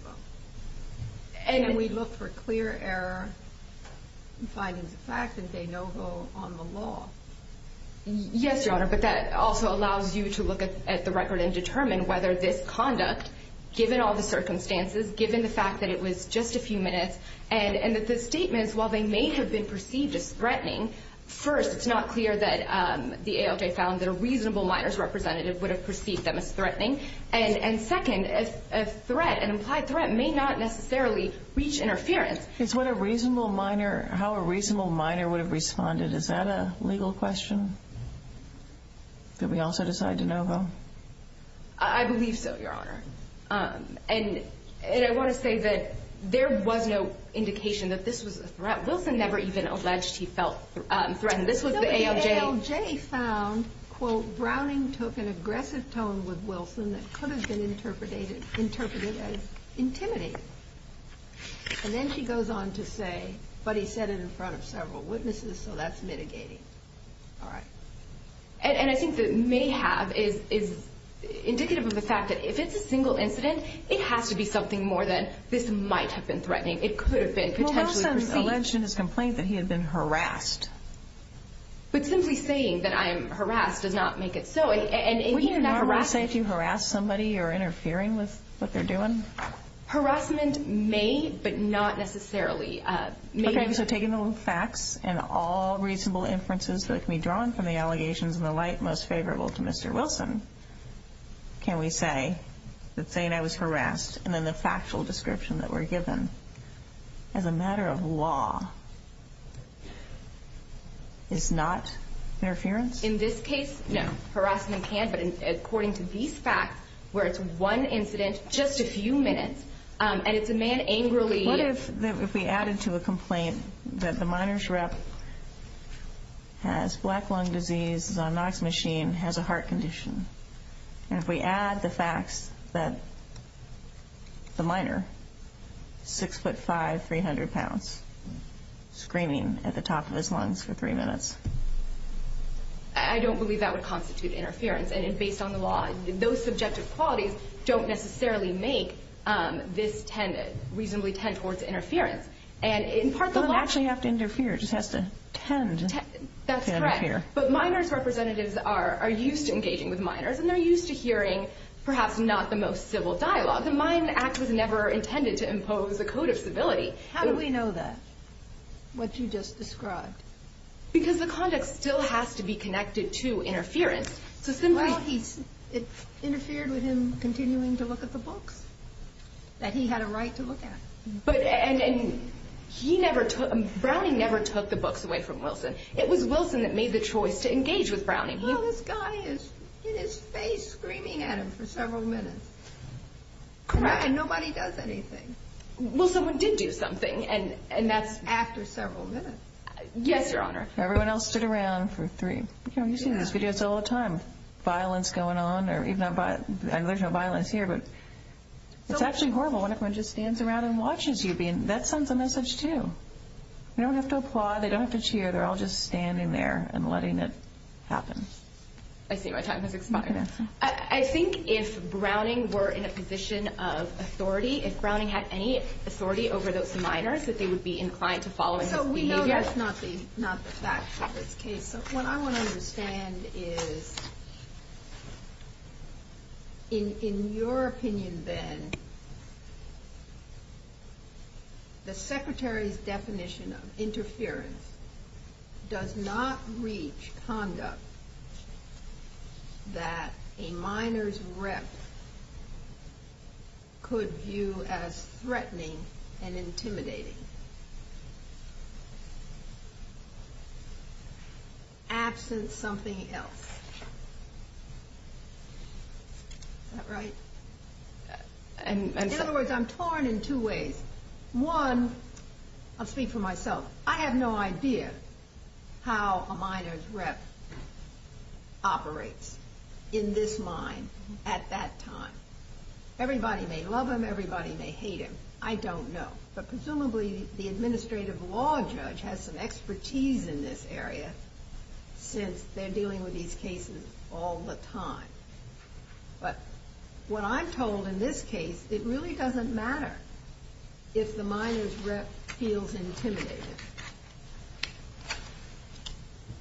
And then we look for clear error in finding the facts and de novo on the law. Yes, Your Honor, but that also allows you to look at the record and determine whether this conduct, given all the circumstances, given the fact that it was just a few minutes, and that the statements, while they may have been perceived as threatening, first, it's not clear that the ALJ found that a reasonable minors representative would have perceived them as threatening. And second, a threat, an implied threat, may not necessarily reach interference. How a reasonable minor would have responded, is that a legal question? Could we also decide de novo? I believe so, Your Honor. And I want to say that there was no indication that this was a threat. Wilson never even alleged he felt threatened. This was the ALJ. The ALJ found, quote, Browning took an aggressive tone with Wilson that could have been interpreted as intimidating. And then she goes on to say, but he said it in front of several witnesses, so that's mitigating. All right. And I think the may have is indicative of the fact that if it's a single incident, it has to be something more than this might have been threatening. It could have been potentially perceived. Wilson alleged in his complaint that he had been harassed. But simply saying that I'm harassed does not make it so. And he is not harassed. Would he have not refused to harass somebody or interfering with what they're doing? Harassment may, but not necessarily. Okay. So taking the facts and all reasonable inferences that can be drawn from the allegations and the like, most favorable to Mr. Wilson, can we say that they and I was harassed? And then the factual description that we're given as a matter of law is not interference? In this case, no. Harassment can, but according to these facts, where it's one incident, just a few minutes, and it's a man angrily. What if we added to the complaint that the minor's rep has black lung disease, is on an oxygen machine, has a heart condition? And if we add the facts that the minor, 6'5", 300 pounds, screaming at the top of his lungs for three minutes? I don't believe that would constitute interference. And it's based on the law. Those subjective qualities don't necessarily make this reasonably tend towards interference. But it will actually have to interfere. It just has to tend to interfere. But minor's representatives are used to engaging with minors, and they're used to hearing perhaps not the most civil dialogue. The Mines Act was never intended to impose a code of civility. How do we know that, what you just described? Because the conduct still has to be connected to interference. Well, it interfered with him continuing to look at the book that he had a right to look at. And he never took, Browning never took the books away from Wilson. It was Wilson that made the choice to engage with Browning. Well, this guy is in his space screaming at him for several minutes. And nobody does anything. Well, someone did do something, and that's after several minutes. Yes, Your Honor. Everyone else stood around for three. You see this all the time, violence going on. There's no violence here, but it's actually horrible when everyone just stands around and watches you. That sends a message, too. They don't have to applaud. They don't have to cheer. They're all just standing there and letting it happen. I see what you're talking about. I think if Browning were in a position of authority, if Browning had any authority over those minors, that they would be inclined to follow him. No, we know that's not the case. What I want to understand is, in your opinion, Ben, the Secretary's definition of interference does not reach conduct that a minor's rep could view as threatening and intimidating. Absent something else. Is that right? In other words, I'm torn in two ways. One, I'll speak for myself. I have no idea how a minor's rep operates in this mind at that time. Everybody may love him. Everybody may hate him. I don't know. But presumably the administrative law judge has some expertise in this area, since they're dealing with these cases all the time. But what I'm told in this case, it really doesn't matter if the minor's rep feels intimidated.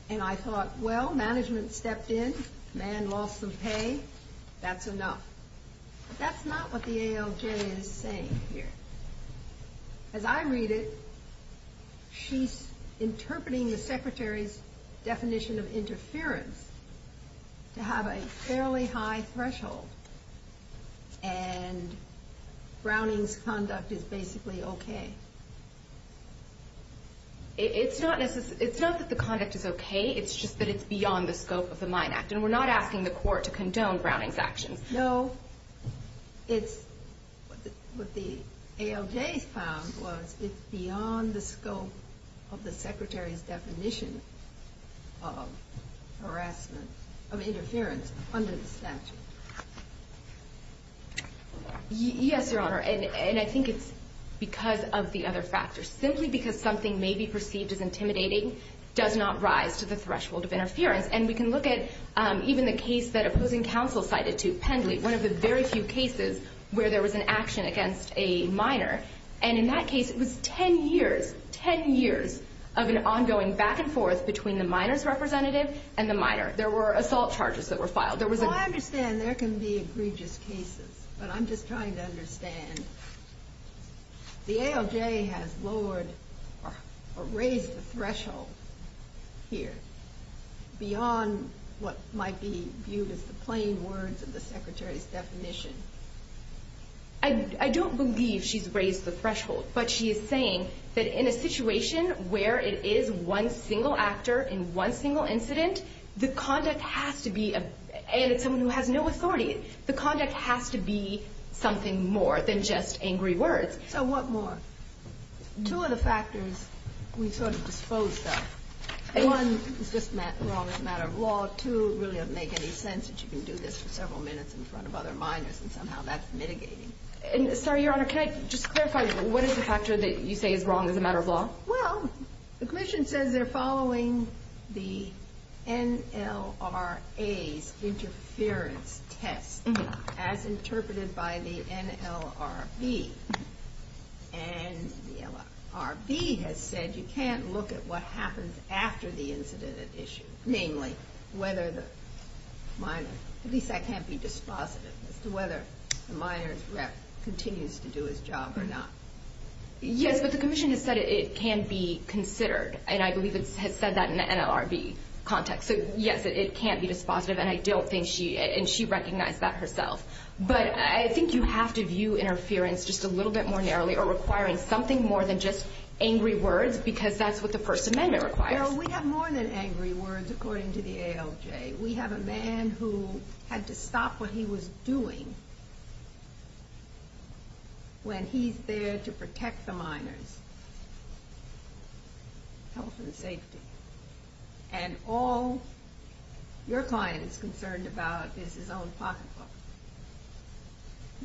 And I thought, well, management stepped in. Man lost some pay. That's enough. That's not what the ALJ is saying here. As I read it, she's interpreting the Secretary's definition of interference to have a fairly high threshold. And Browning's conduct is basically okay. It's not that the conduct is okay. It's just that it's beyond the scope of the Mine Act. And we're not asking the court to condone Browning's actions. No. What the ALJ found was it's beyond the scope of the Secretary's definition of interference under the statute. Yes, Your Honor. And I think it's because of the other factors. Simply because something may be perceived as intimidating does not rise to the threshold of interference. And we can look at even the case that opposing counsel cited too, Penley, one of the very few cases where there was an action against a minor. And in that case, it was ten years, ten years of an ongoing back and forth between the minor's representative and the minor. There were assault charges that were filed. Well, I understand there can be egregious cases. But I'm just trying to understand. The ALJ has lowered or raised the threshold here beyond what might be viewed as the plain words of the Secretary's definition. I don't believe she's raised the threshold. But she is saying that in a situation where it is one single actor in one single incident, the conduct has to be, and it's someone who has no authority, the conduct has to be something more than just angry words. So what more? Two of the factors we sort of dispose of. One is just wrong as a matter of law. Two, it really doesn't make any sense that you can do this for several minutes in front of other minors, and somehow that's mitigating. Sorry, Your Honor, can I just clarify? What is the factor that you say is wrong as a matter of law? Well, the commission says they're following the NLRA's interference test, as interpreted by the NLRB. And the NLRB has said you can't look at what happens after the incident is issued, namely whether the minor, at least that can't be dispositive, whether the minor's rep continues to do his job or not. Yes, but the commission has said it can be considered, and I believe it has said that in the NLRB context. So, yes, it can't be dispositive, and I don't think she, and she recognized that herself. But I think you have to view interference just a little bit more narrowly or requiring something more than just angry words because that's what the First Amendment requires. Well, we have more than angry words, according to the ALJ. We have a man who had to stop what he was doing when he's there to protect the minor's health and safety. And all your client is concerned about is his own pocketbook.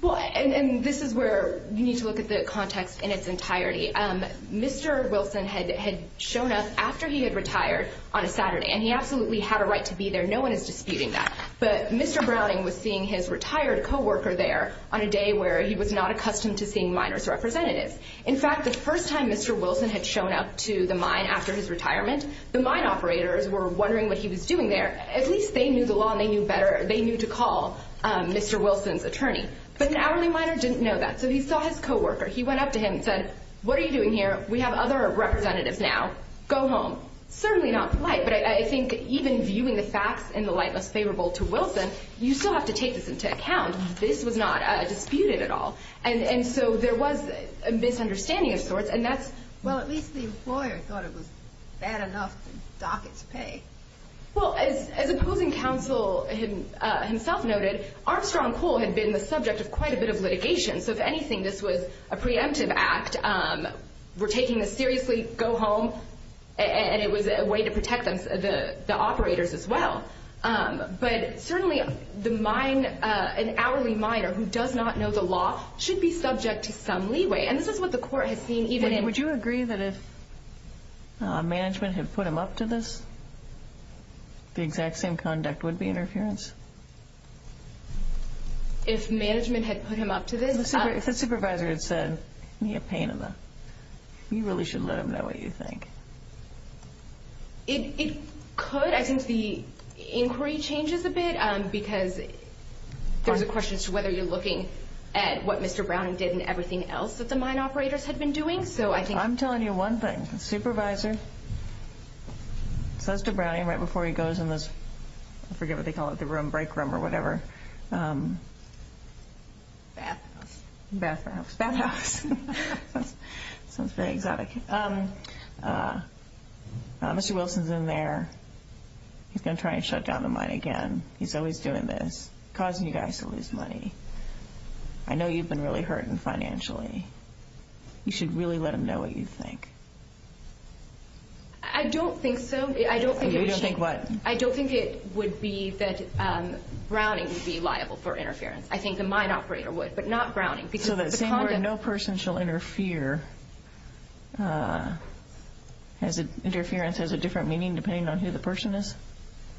And this is where you need to look at the context in its entirety. Mr. Wilson had shown up after he had retired on a Saturday, and he absolutely had a right to be there. No one is disputing that. But Mr. Browning was seeing his retired co-worker there on a day where he was not accustomed to seeing minor's representatives. In fact, the first time Mr. Wilson had shown up to the mine after his retirement, the mine operators were wondering what he was doing there. At least they knew the law and they knew better. They knew to call Mr. Wilson's attorney. But the hourly minor didn't know that, so he saw his co-worker. He went up to him and said, what are you doing here? We have other representatives now. Go home. Certainly not polite, but I think even viewing the facts in the light that's favorable to Wilson, you still have to take this into account. This was not disputed at all. And so there was a misunderstanding of sorts. Well, at least the employer thought it was bad enough to dock its pay. Well, as the closing counsel himself noted, our strong pull had been the subject of quite a bit of litigation. So if anything, this was a preemptive act. We're taking this seriously. Go home. And it was a way to protect them, the operators as well. But certainly the mine, an hourly minor who does not know the law, should be subject to some leeway. And this is what the court had seen even in ---- Would you agree that if management had put him up to this, the exact same conduct would be interference? If management had put him up to this? If the supervisor had said, give me a pain in the ---- You really should let him know what you think. It could. I think the inquiry changes a bit because there's a question as to whether you're looking at what Mr. Browning did and everything else that the mine operators had been doing. I'm telling you one thing. The supervisor goes to Browning right before he goes and goes, I forget what they call it, the room, break room or whatever. Bathhouse. Bathhouse. Bathhouse. Mr. Wilson's in there. He's going to try and shut down the mine again. He's always doing this, causing you guys to lose money. I know you've been really hurting financially. You should really let him know what you think. I don't think so. You don't think what? I don't think it would be that Browning would be liable for interference. I think the mine operator would, but not Browning. No person shall interfere. Interference has a different meaning depending on who the person is?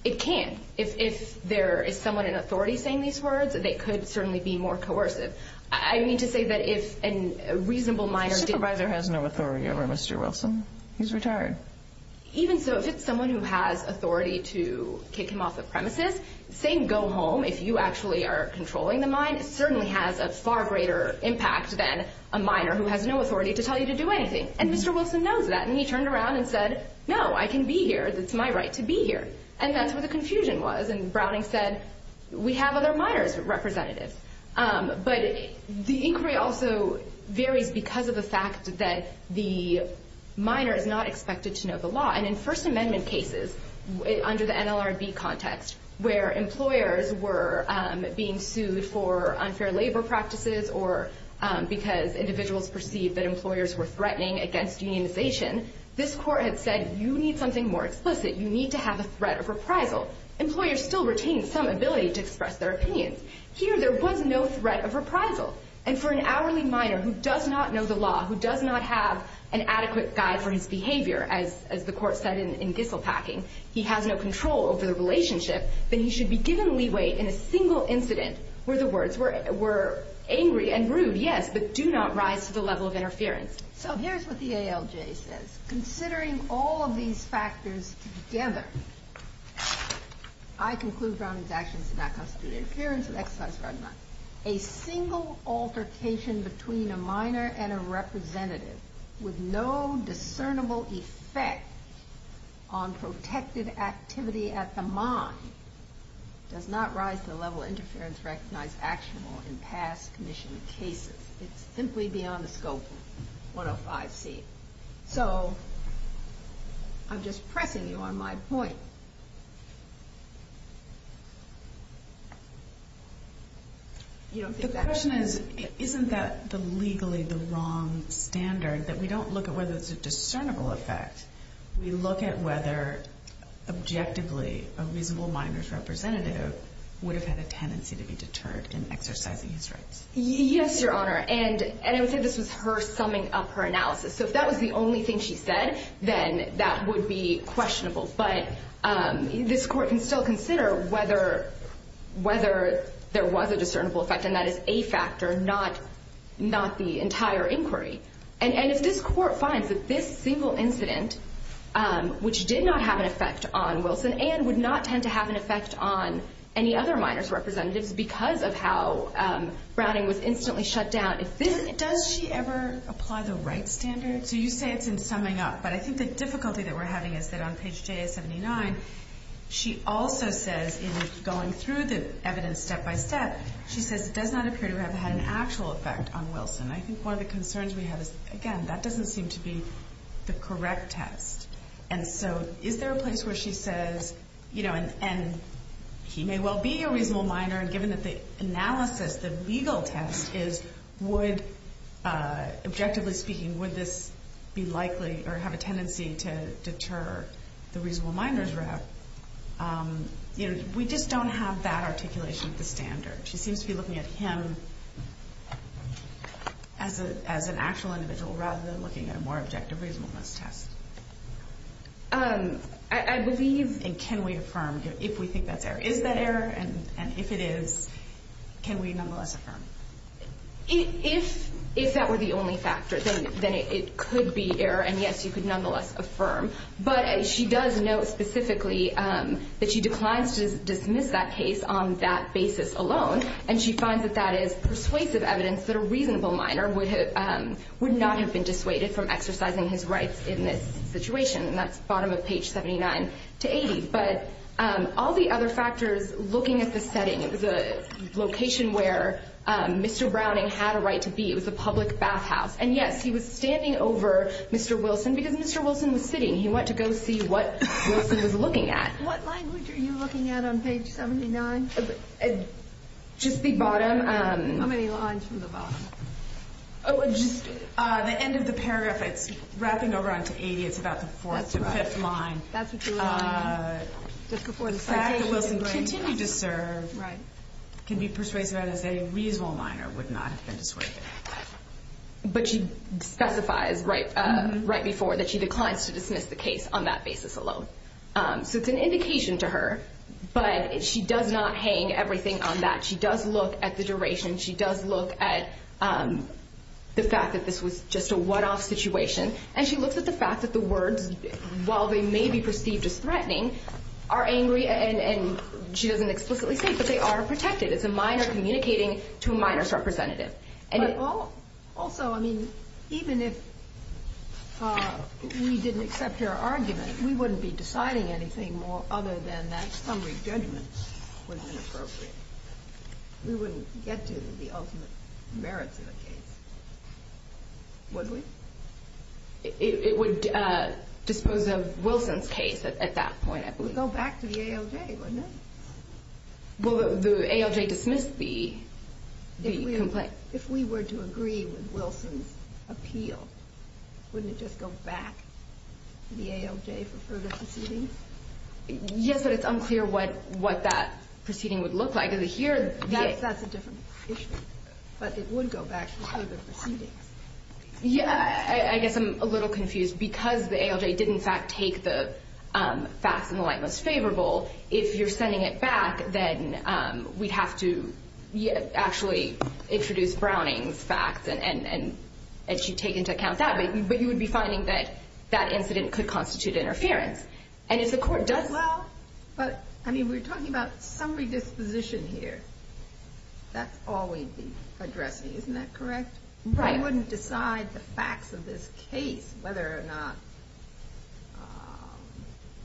It can. If there is someone in authority saying these words, they could certainly be more coercive. I need to say that if a reasonable minor supervisor has no authority over Mr. Wilson, he's retired. Even so, if it's someone who has authority to kick him off the premises, saying go home if you actually are controlling the mine, it certainly has a far greater impact than a minor who has no authority to tell you to do anything. And Mr. Wilson knows that. And he turned around and said, no, I can be here. It's my right to be here. And that's where the confusion was. And Browning said, we have other miners representative. But the inquiry also varied because of the fact that the minor is not expected to know the law. And in First Amendment cases under the NLRB context where employers were being sued for unfair labor practices or because individuals perceived that employers were threatening against unionization, this court had said you need something more explicit. You need to have a threat of reprisal. Employers still retained some ability to express their opinion. Here there was no threat of reprisal. And for an hourly minor who does not know the law, who does not have an adequate guide for his behavior, as the court said in Gisselpacking, he has no control over the relationship, then he should be given leeway in a single incident where the words were angry and rude, yes, but do not rise to the level of interference. So here's what the ALJ says. Considering all of these factors together, I conclude Browning's actions in my constituency. Here is an exercise from mine. A single altercation between a minor and a representative with no discernible effect on protective activity at the mine does not rise to the level of interference recognized actionable in past commissioning cases. It's simply beyond the scope of 105C. So I'm just pressing you on my point. The question is, isn't that legally the wrong standard that we don't look at whether it's a discernible effect? We look at whether, objectively, a reasonable minor's representative would have had a tendency to be deterred in exercising his rights. Yes, Your Honor, and this is her summing up her analysis. So if that was the only thing she said, then that would be questionable. But this court can still consider whether there was a discernible effect, and that is a factor, not the entire inquiry. And if this court finds that this single incident, which did not have an effect on Wilson and would not tend to have an effect on any other minor's representative because of how Browning was instantly shut down, does she ever apply the right standard? So you say it's in summing up, but I think the difficulty that we're having is that on page J of 79, she also says in going through this evidence step-by-step, she says it does not appear to have had an actual effect on Wilson. I think one of the concerns we have is, again, that doesn't seem to be the correct test. And so is there a place where she says, you know, and he may well be a reasonable minor, and given that the analysis, the legal test is would, objectively speaking, would this be likely or have a tendency to deter the reasonable minor's rep, you know, we just don't have that articulation for standard. She seems to be looking at him as an actual individual rather than looking at a more objective, reasonable test. I believe in can we affirm if we think that there is that error, and if it is, can we nonetheless affirm? If that were the only factor, then it could be error, and yes, you could nonetheless affirm. But she does note specifically that she declines to dismiss that case on that basis alone, and she finds that that is persuasive evidence that a reasonable minor would not have been dissuaded from exercising his rights in this situation. And that's the bottom of page 79 to 80. But all the other factors, looking at the setting, the location where Mr. Browning had a right to be, it was a public bathhouse. And yes, he was standing over Mr. Wilson because Mr. Wilson was sitting. He went to go see what Wilson was looking at. What language are you looking at on page 79? Just the bottom. How many lines from the bottom? Just the end of the paragraph, wrapping over onto 80, it's about the fourth or fifth line. That's what you're looking at, just before the first page. The fact that Wilson's right to continue to serve can be persuasive evidence that a reasonable minor would not have been dissuaded. But she specifies right before that she declines to dismiss the case on that basis alone. So it's an indication to her, but she does not hang everything on that. She does look at the duration. She does look at the fact that this was just a one-off situation. And she looks at the fact that the words, while they may be perceived as threatening, are angry and she doesn't explicitly say it, but they are protected. It's a minor communicating to a minor's representative. Also, even if we didn't accept your argument, we wouldn't be deciding anything other than that summary judgment was inappropriate. We wouldn't get to the ultimate merit of the case, would we? It would dispose of Wilson's case at that point. It would go back to the ALJ, wouldn't it? Well, the ALJ dismissed the complaint. If we were to agree with Wilson's appeal, wouldn't it just go back to the ALJ for further proceeding? Yes, but it's unclear what that proceeding would look like. That's a different issue, but it would go back to the ALJ. Yeah, I guess I'm a little confused. Because the ALJ didn't, in fact, take the facts in the light that's favorable, if you're sending it back, then we'd have to actually introduce Browning's facts and she'd take into account that. But you would be finding that that incident could constitute interference. And if the court does well... But, I mean, we're talking about summary disposition here. That's always the address, isn't that correct? I wouldn't decide the facts of this case, whether or not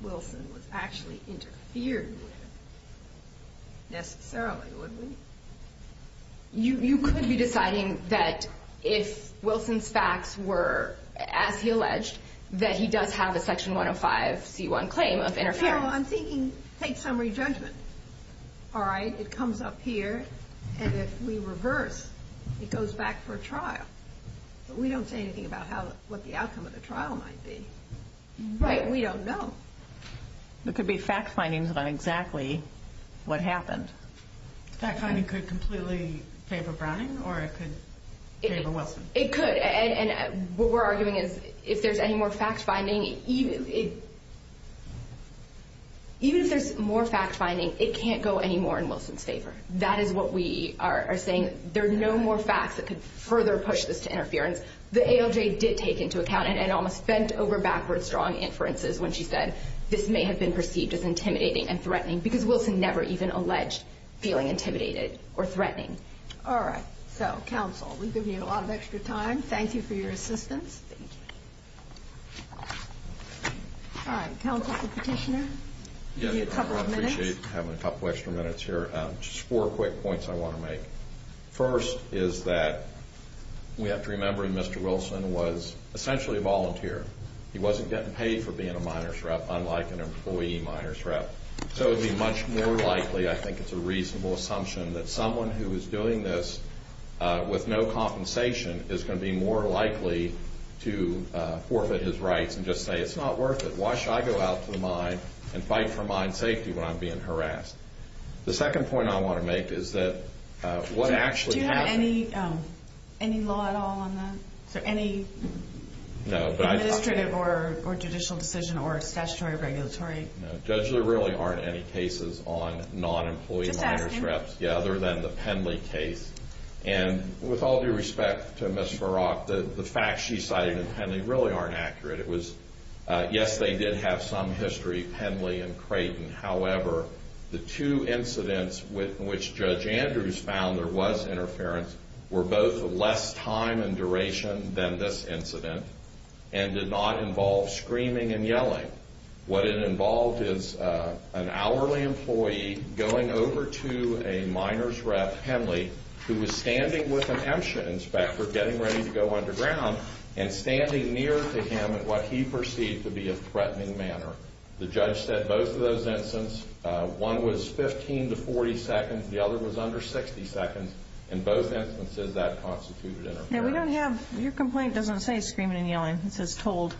Wilson was actually interfered with. Necessarily, would we? You could be deciding that if Wilson's facts were, as he alleged, that he does have a section 105c1 claim of interference. Well, I'm thinking case summary judgment. All right, it comes up here, and if we reverse, it goes back for trial. But we don't say anything about what the outcome of the trial might be. Right, we don't know. It could be fact-finding about exactly what happened. Fact-finding could completely favor Browning or it could favor Wilson. It could. And what we're arguing is if there's any more fact-finding, even if there's more fact-finding, it can't go any more in Wilson's favor. That is what we are saying. There are no more facts that could further push this to interference. The ALJ did take into account and almost bent over backwards drawing inferences when she said, this may have been perceived as intimidating and threatening because Wilson never even alleged feeling intimidated or threatening. All right, so counsel, we give you a lot of extra time. Thank you for your assistance. Thank you. All right, counsel petitioner, give me a couple of minutes. I appreciate having a couple extra minutes here. Just four quick points I want to make. First is that we have to remember Mr. Wilson was essentially a volunteer. He wasn't getting paid for being a minors rep, unlike an employee minors rep. So it would be much more likely, I think it's a reasonable assumption, that someone who is doing this with no compensation is going to be more likely to forfeit his rights and just say, it's not worth it. Why should I go out to the mine and fight for mine safety when I'm being harassed? The second point I want to make is that what actually happened. Do you have any law at all on that? Any administrative or judicial decision or statutory or regulatory? No, Judge, there really aren't any cases on non-employee minors reps, other than the Penley case. And with all due respect to Ms. Barak, the facts she cited in Penley really aren't accurate. It was, yes, they did have some history, Penley and Creighton. However, the two incidents in which Judge Andrews found there was interference were both less time and duration than this incident and did not involve screaming and yelling. What it involved is an hourly employee going over to a minor's rep, Penley, who was standing with an inspector getting ready to go underground and standing near to him in what he perceived to be a threatening manner. The judge said both of those incidents, one was 15 to 40 seconds, the other was under 60 seconds. In both instances, that constitutes interference. Your complaint doesn't say screaming and yelling. It says told.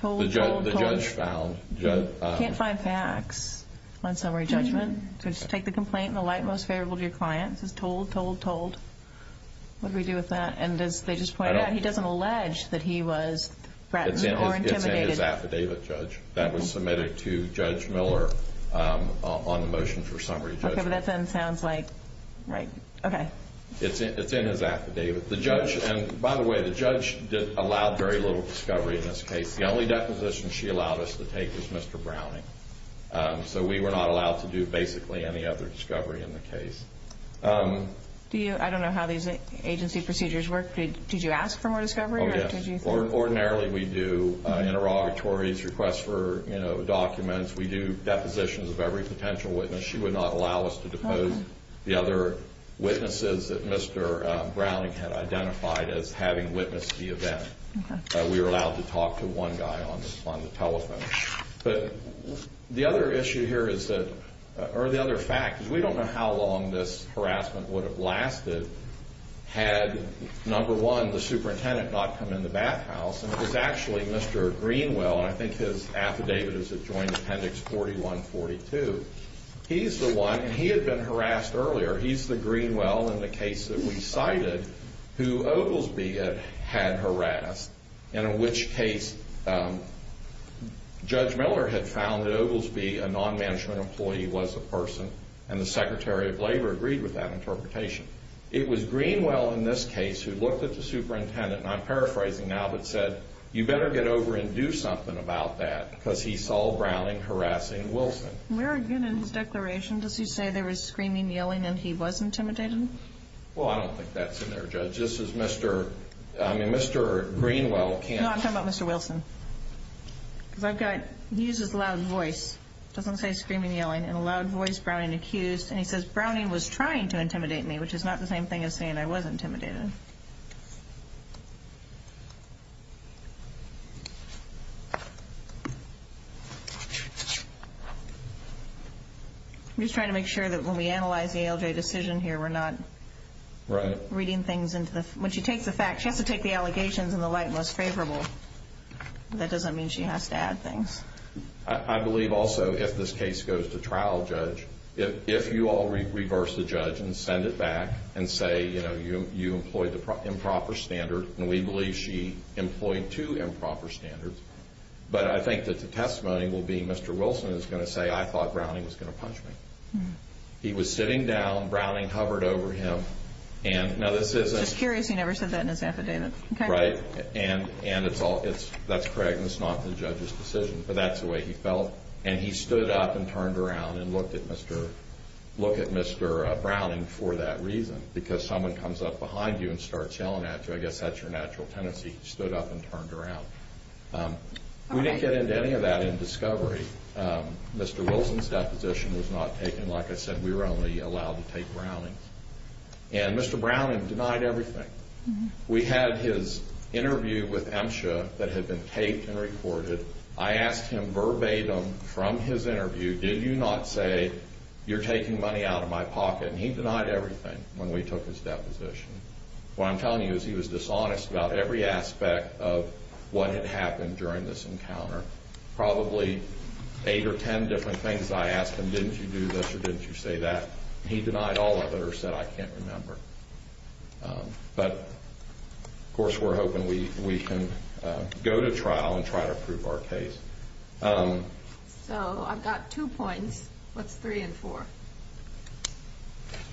The judge found. You can't find facts on summary judgment. Just take the complaint in the light and most favorable to your client. It says told, told, told. What do we do with that? And they just pointed out he doesn't allege that he was threatened or intimidated. It's in his affidavit, Judge, that was submitted to Judge Miller on a motion for summary judgment. Okay, but that then sounds like, okay. It's in his affidavit. The judge, and by the way, the judge allowed very little discovery in this case. The only deposition she allowed us to take was Mr. Browning. So we were not allowed to do basically any other discovery in the case. I don't know how these agency procedures work. Did you ask for more discovery? Ordinarily we do interrogatories, requests for documents. We do depositions of every potential witness. She would not allow us to depose the other witnesses that Mr. Browning had identified as having witnessed the event. We were allowed to talk to one guy on the telephone. But the other issue here is that, or the other fact is we don't know how long this harassment would have lasted had, number one, the superintendent not come into that house. And it was actually Mr. Greenwell, and I think his affidavit is adjoined to Appendix 41-42. He's the one, and he had been harassed earlier. He's the Greenwell in the case that we cited who Oglesby had harassed, and in which case Judge Miller had found that Oglesby, a non-management employee, was a person, and the Secretary of Labor agreed with that interpretation. It was Greenwell in this case who looked at the superintendent, and I'm paraphrasing now, but said, you better get over and do something about that because he saw Browning harassing Wilson. Where again in his declaration does he say there was screaming, yelling, and he was intimidating? Well, I don't think that's in there, Judge. This is Mr., I mean, Mr. Greenwell can't... No, I'm talking about Mr. Wilson. I've got, he uses loud voice. Something says screaming, yelling, and loud voice, Browning accused, and it says Browning was trying to intimidate me, which is not the same thing as saying I was intimidated. I'm just trying to make sure that when we analyze the ALJ decision here, we're not... Right. ...reading things into this. When she takes the facts, she has to take the allegations in the light most favorable. That doesn't mean she has to add things. I believe also if this case goes to trial, Judge, if you all reverse the judge and send it back and say, you know, you employed the improper standard, and we believe she employed two improper standards, but I think that the testimony will be Mr. Wilson is going to say I thought Browning was going to punch me. He was sitting down, Browning hovered over him, and now this isn't... Just curious he never said that in his affidavit. Right. And that's correct, and it's not the judge's decision, but that's the way he felt, and he stood up and turned around and looked at Mr. Browning for that reason, because someone comes up behind you and starts yelling at you. I guess that's your natural tendency, stood up and turned around. We didn't get into any of that in discovery. Mr. Wilson's deposition was not taken. Like I said, we were only allowed to take Browning. And Mr. Browning denied everything. We had his interview with MSHA that had been taped and recorded. I asked him verbatim from his interview, did you not say you're taking money out of my pocket? And he denied everything when we took his deposition. What I'm telling you is he was dishonest about every aspect of what had happened during this encounter. Probably eight or ten different things I asked him, didn't you do this or didn't you say that? He denied all of it or said I can't remember. But, of course, we're hoping we can go to trial and try to prove our case. So I've got two points. What's three and four?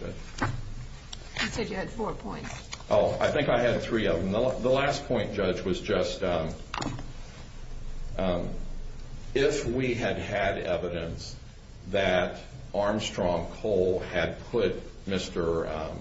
You said you had four points. Oh, I think I had three of them. The last point, Judge, was just if we had had evidence that Armstrong Cole had put Mr.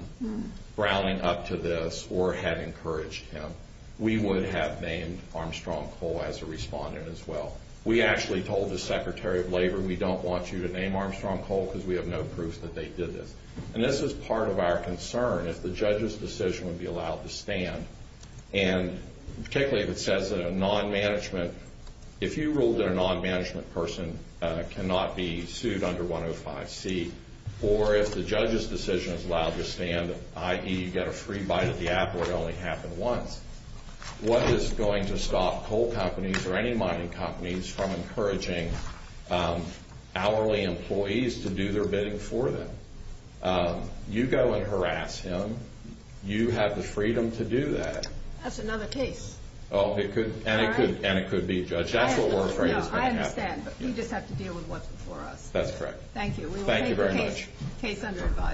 Browning up to this or had encouraged him, we would have named Armstrong Cole as a respondent as well. We actually told the Secretary of Labor we don't want you to name Armstrong Cole because we have no proof that they did it. And this is part of our concern, if the judge's decision would be allowed to stand, and particularly if it says that a non-management, if you ruled that a non-management person cannot be sued under 105C, or if the judge's decision is allowed to stand, i.e. get a free bite at the apple, it only happened once, what is going to stop coal companies or any mining companies from encouraging hourly employees to do their bidding for them? You go and harass him. You have the freedom to do that. That's another case. And it could be Judge Appleworth. No, I understand, but you just have to deal with what's before us. That's correct. Thank you. We will take the case. Case under review.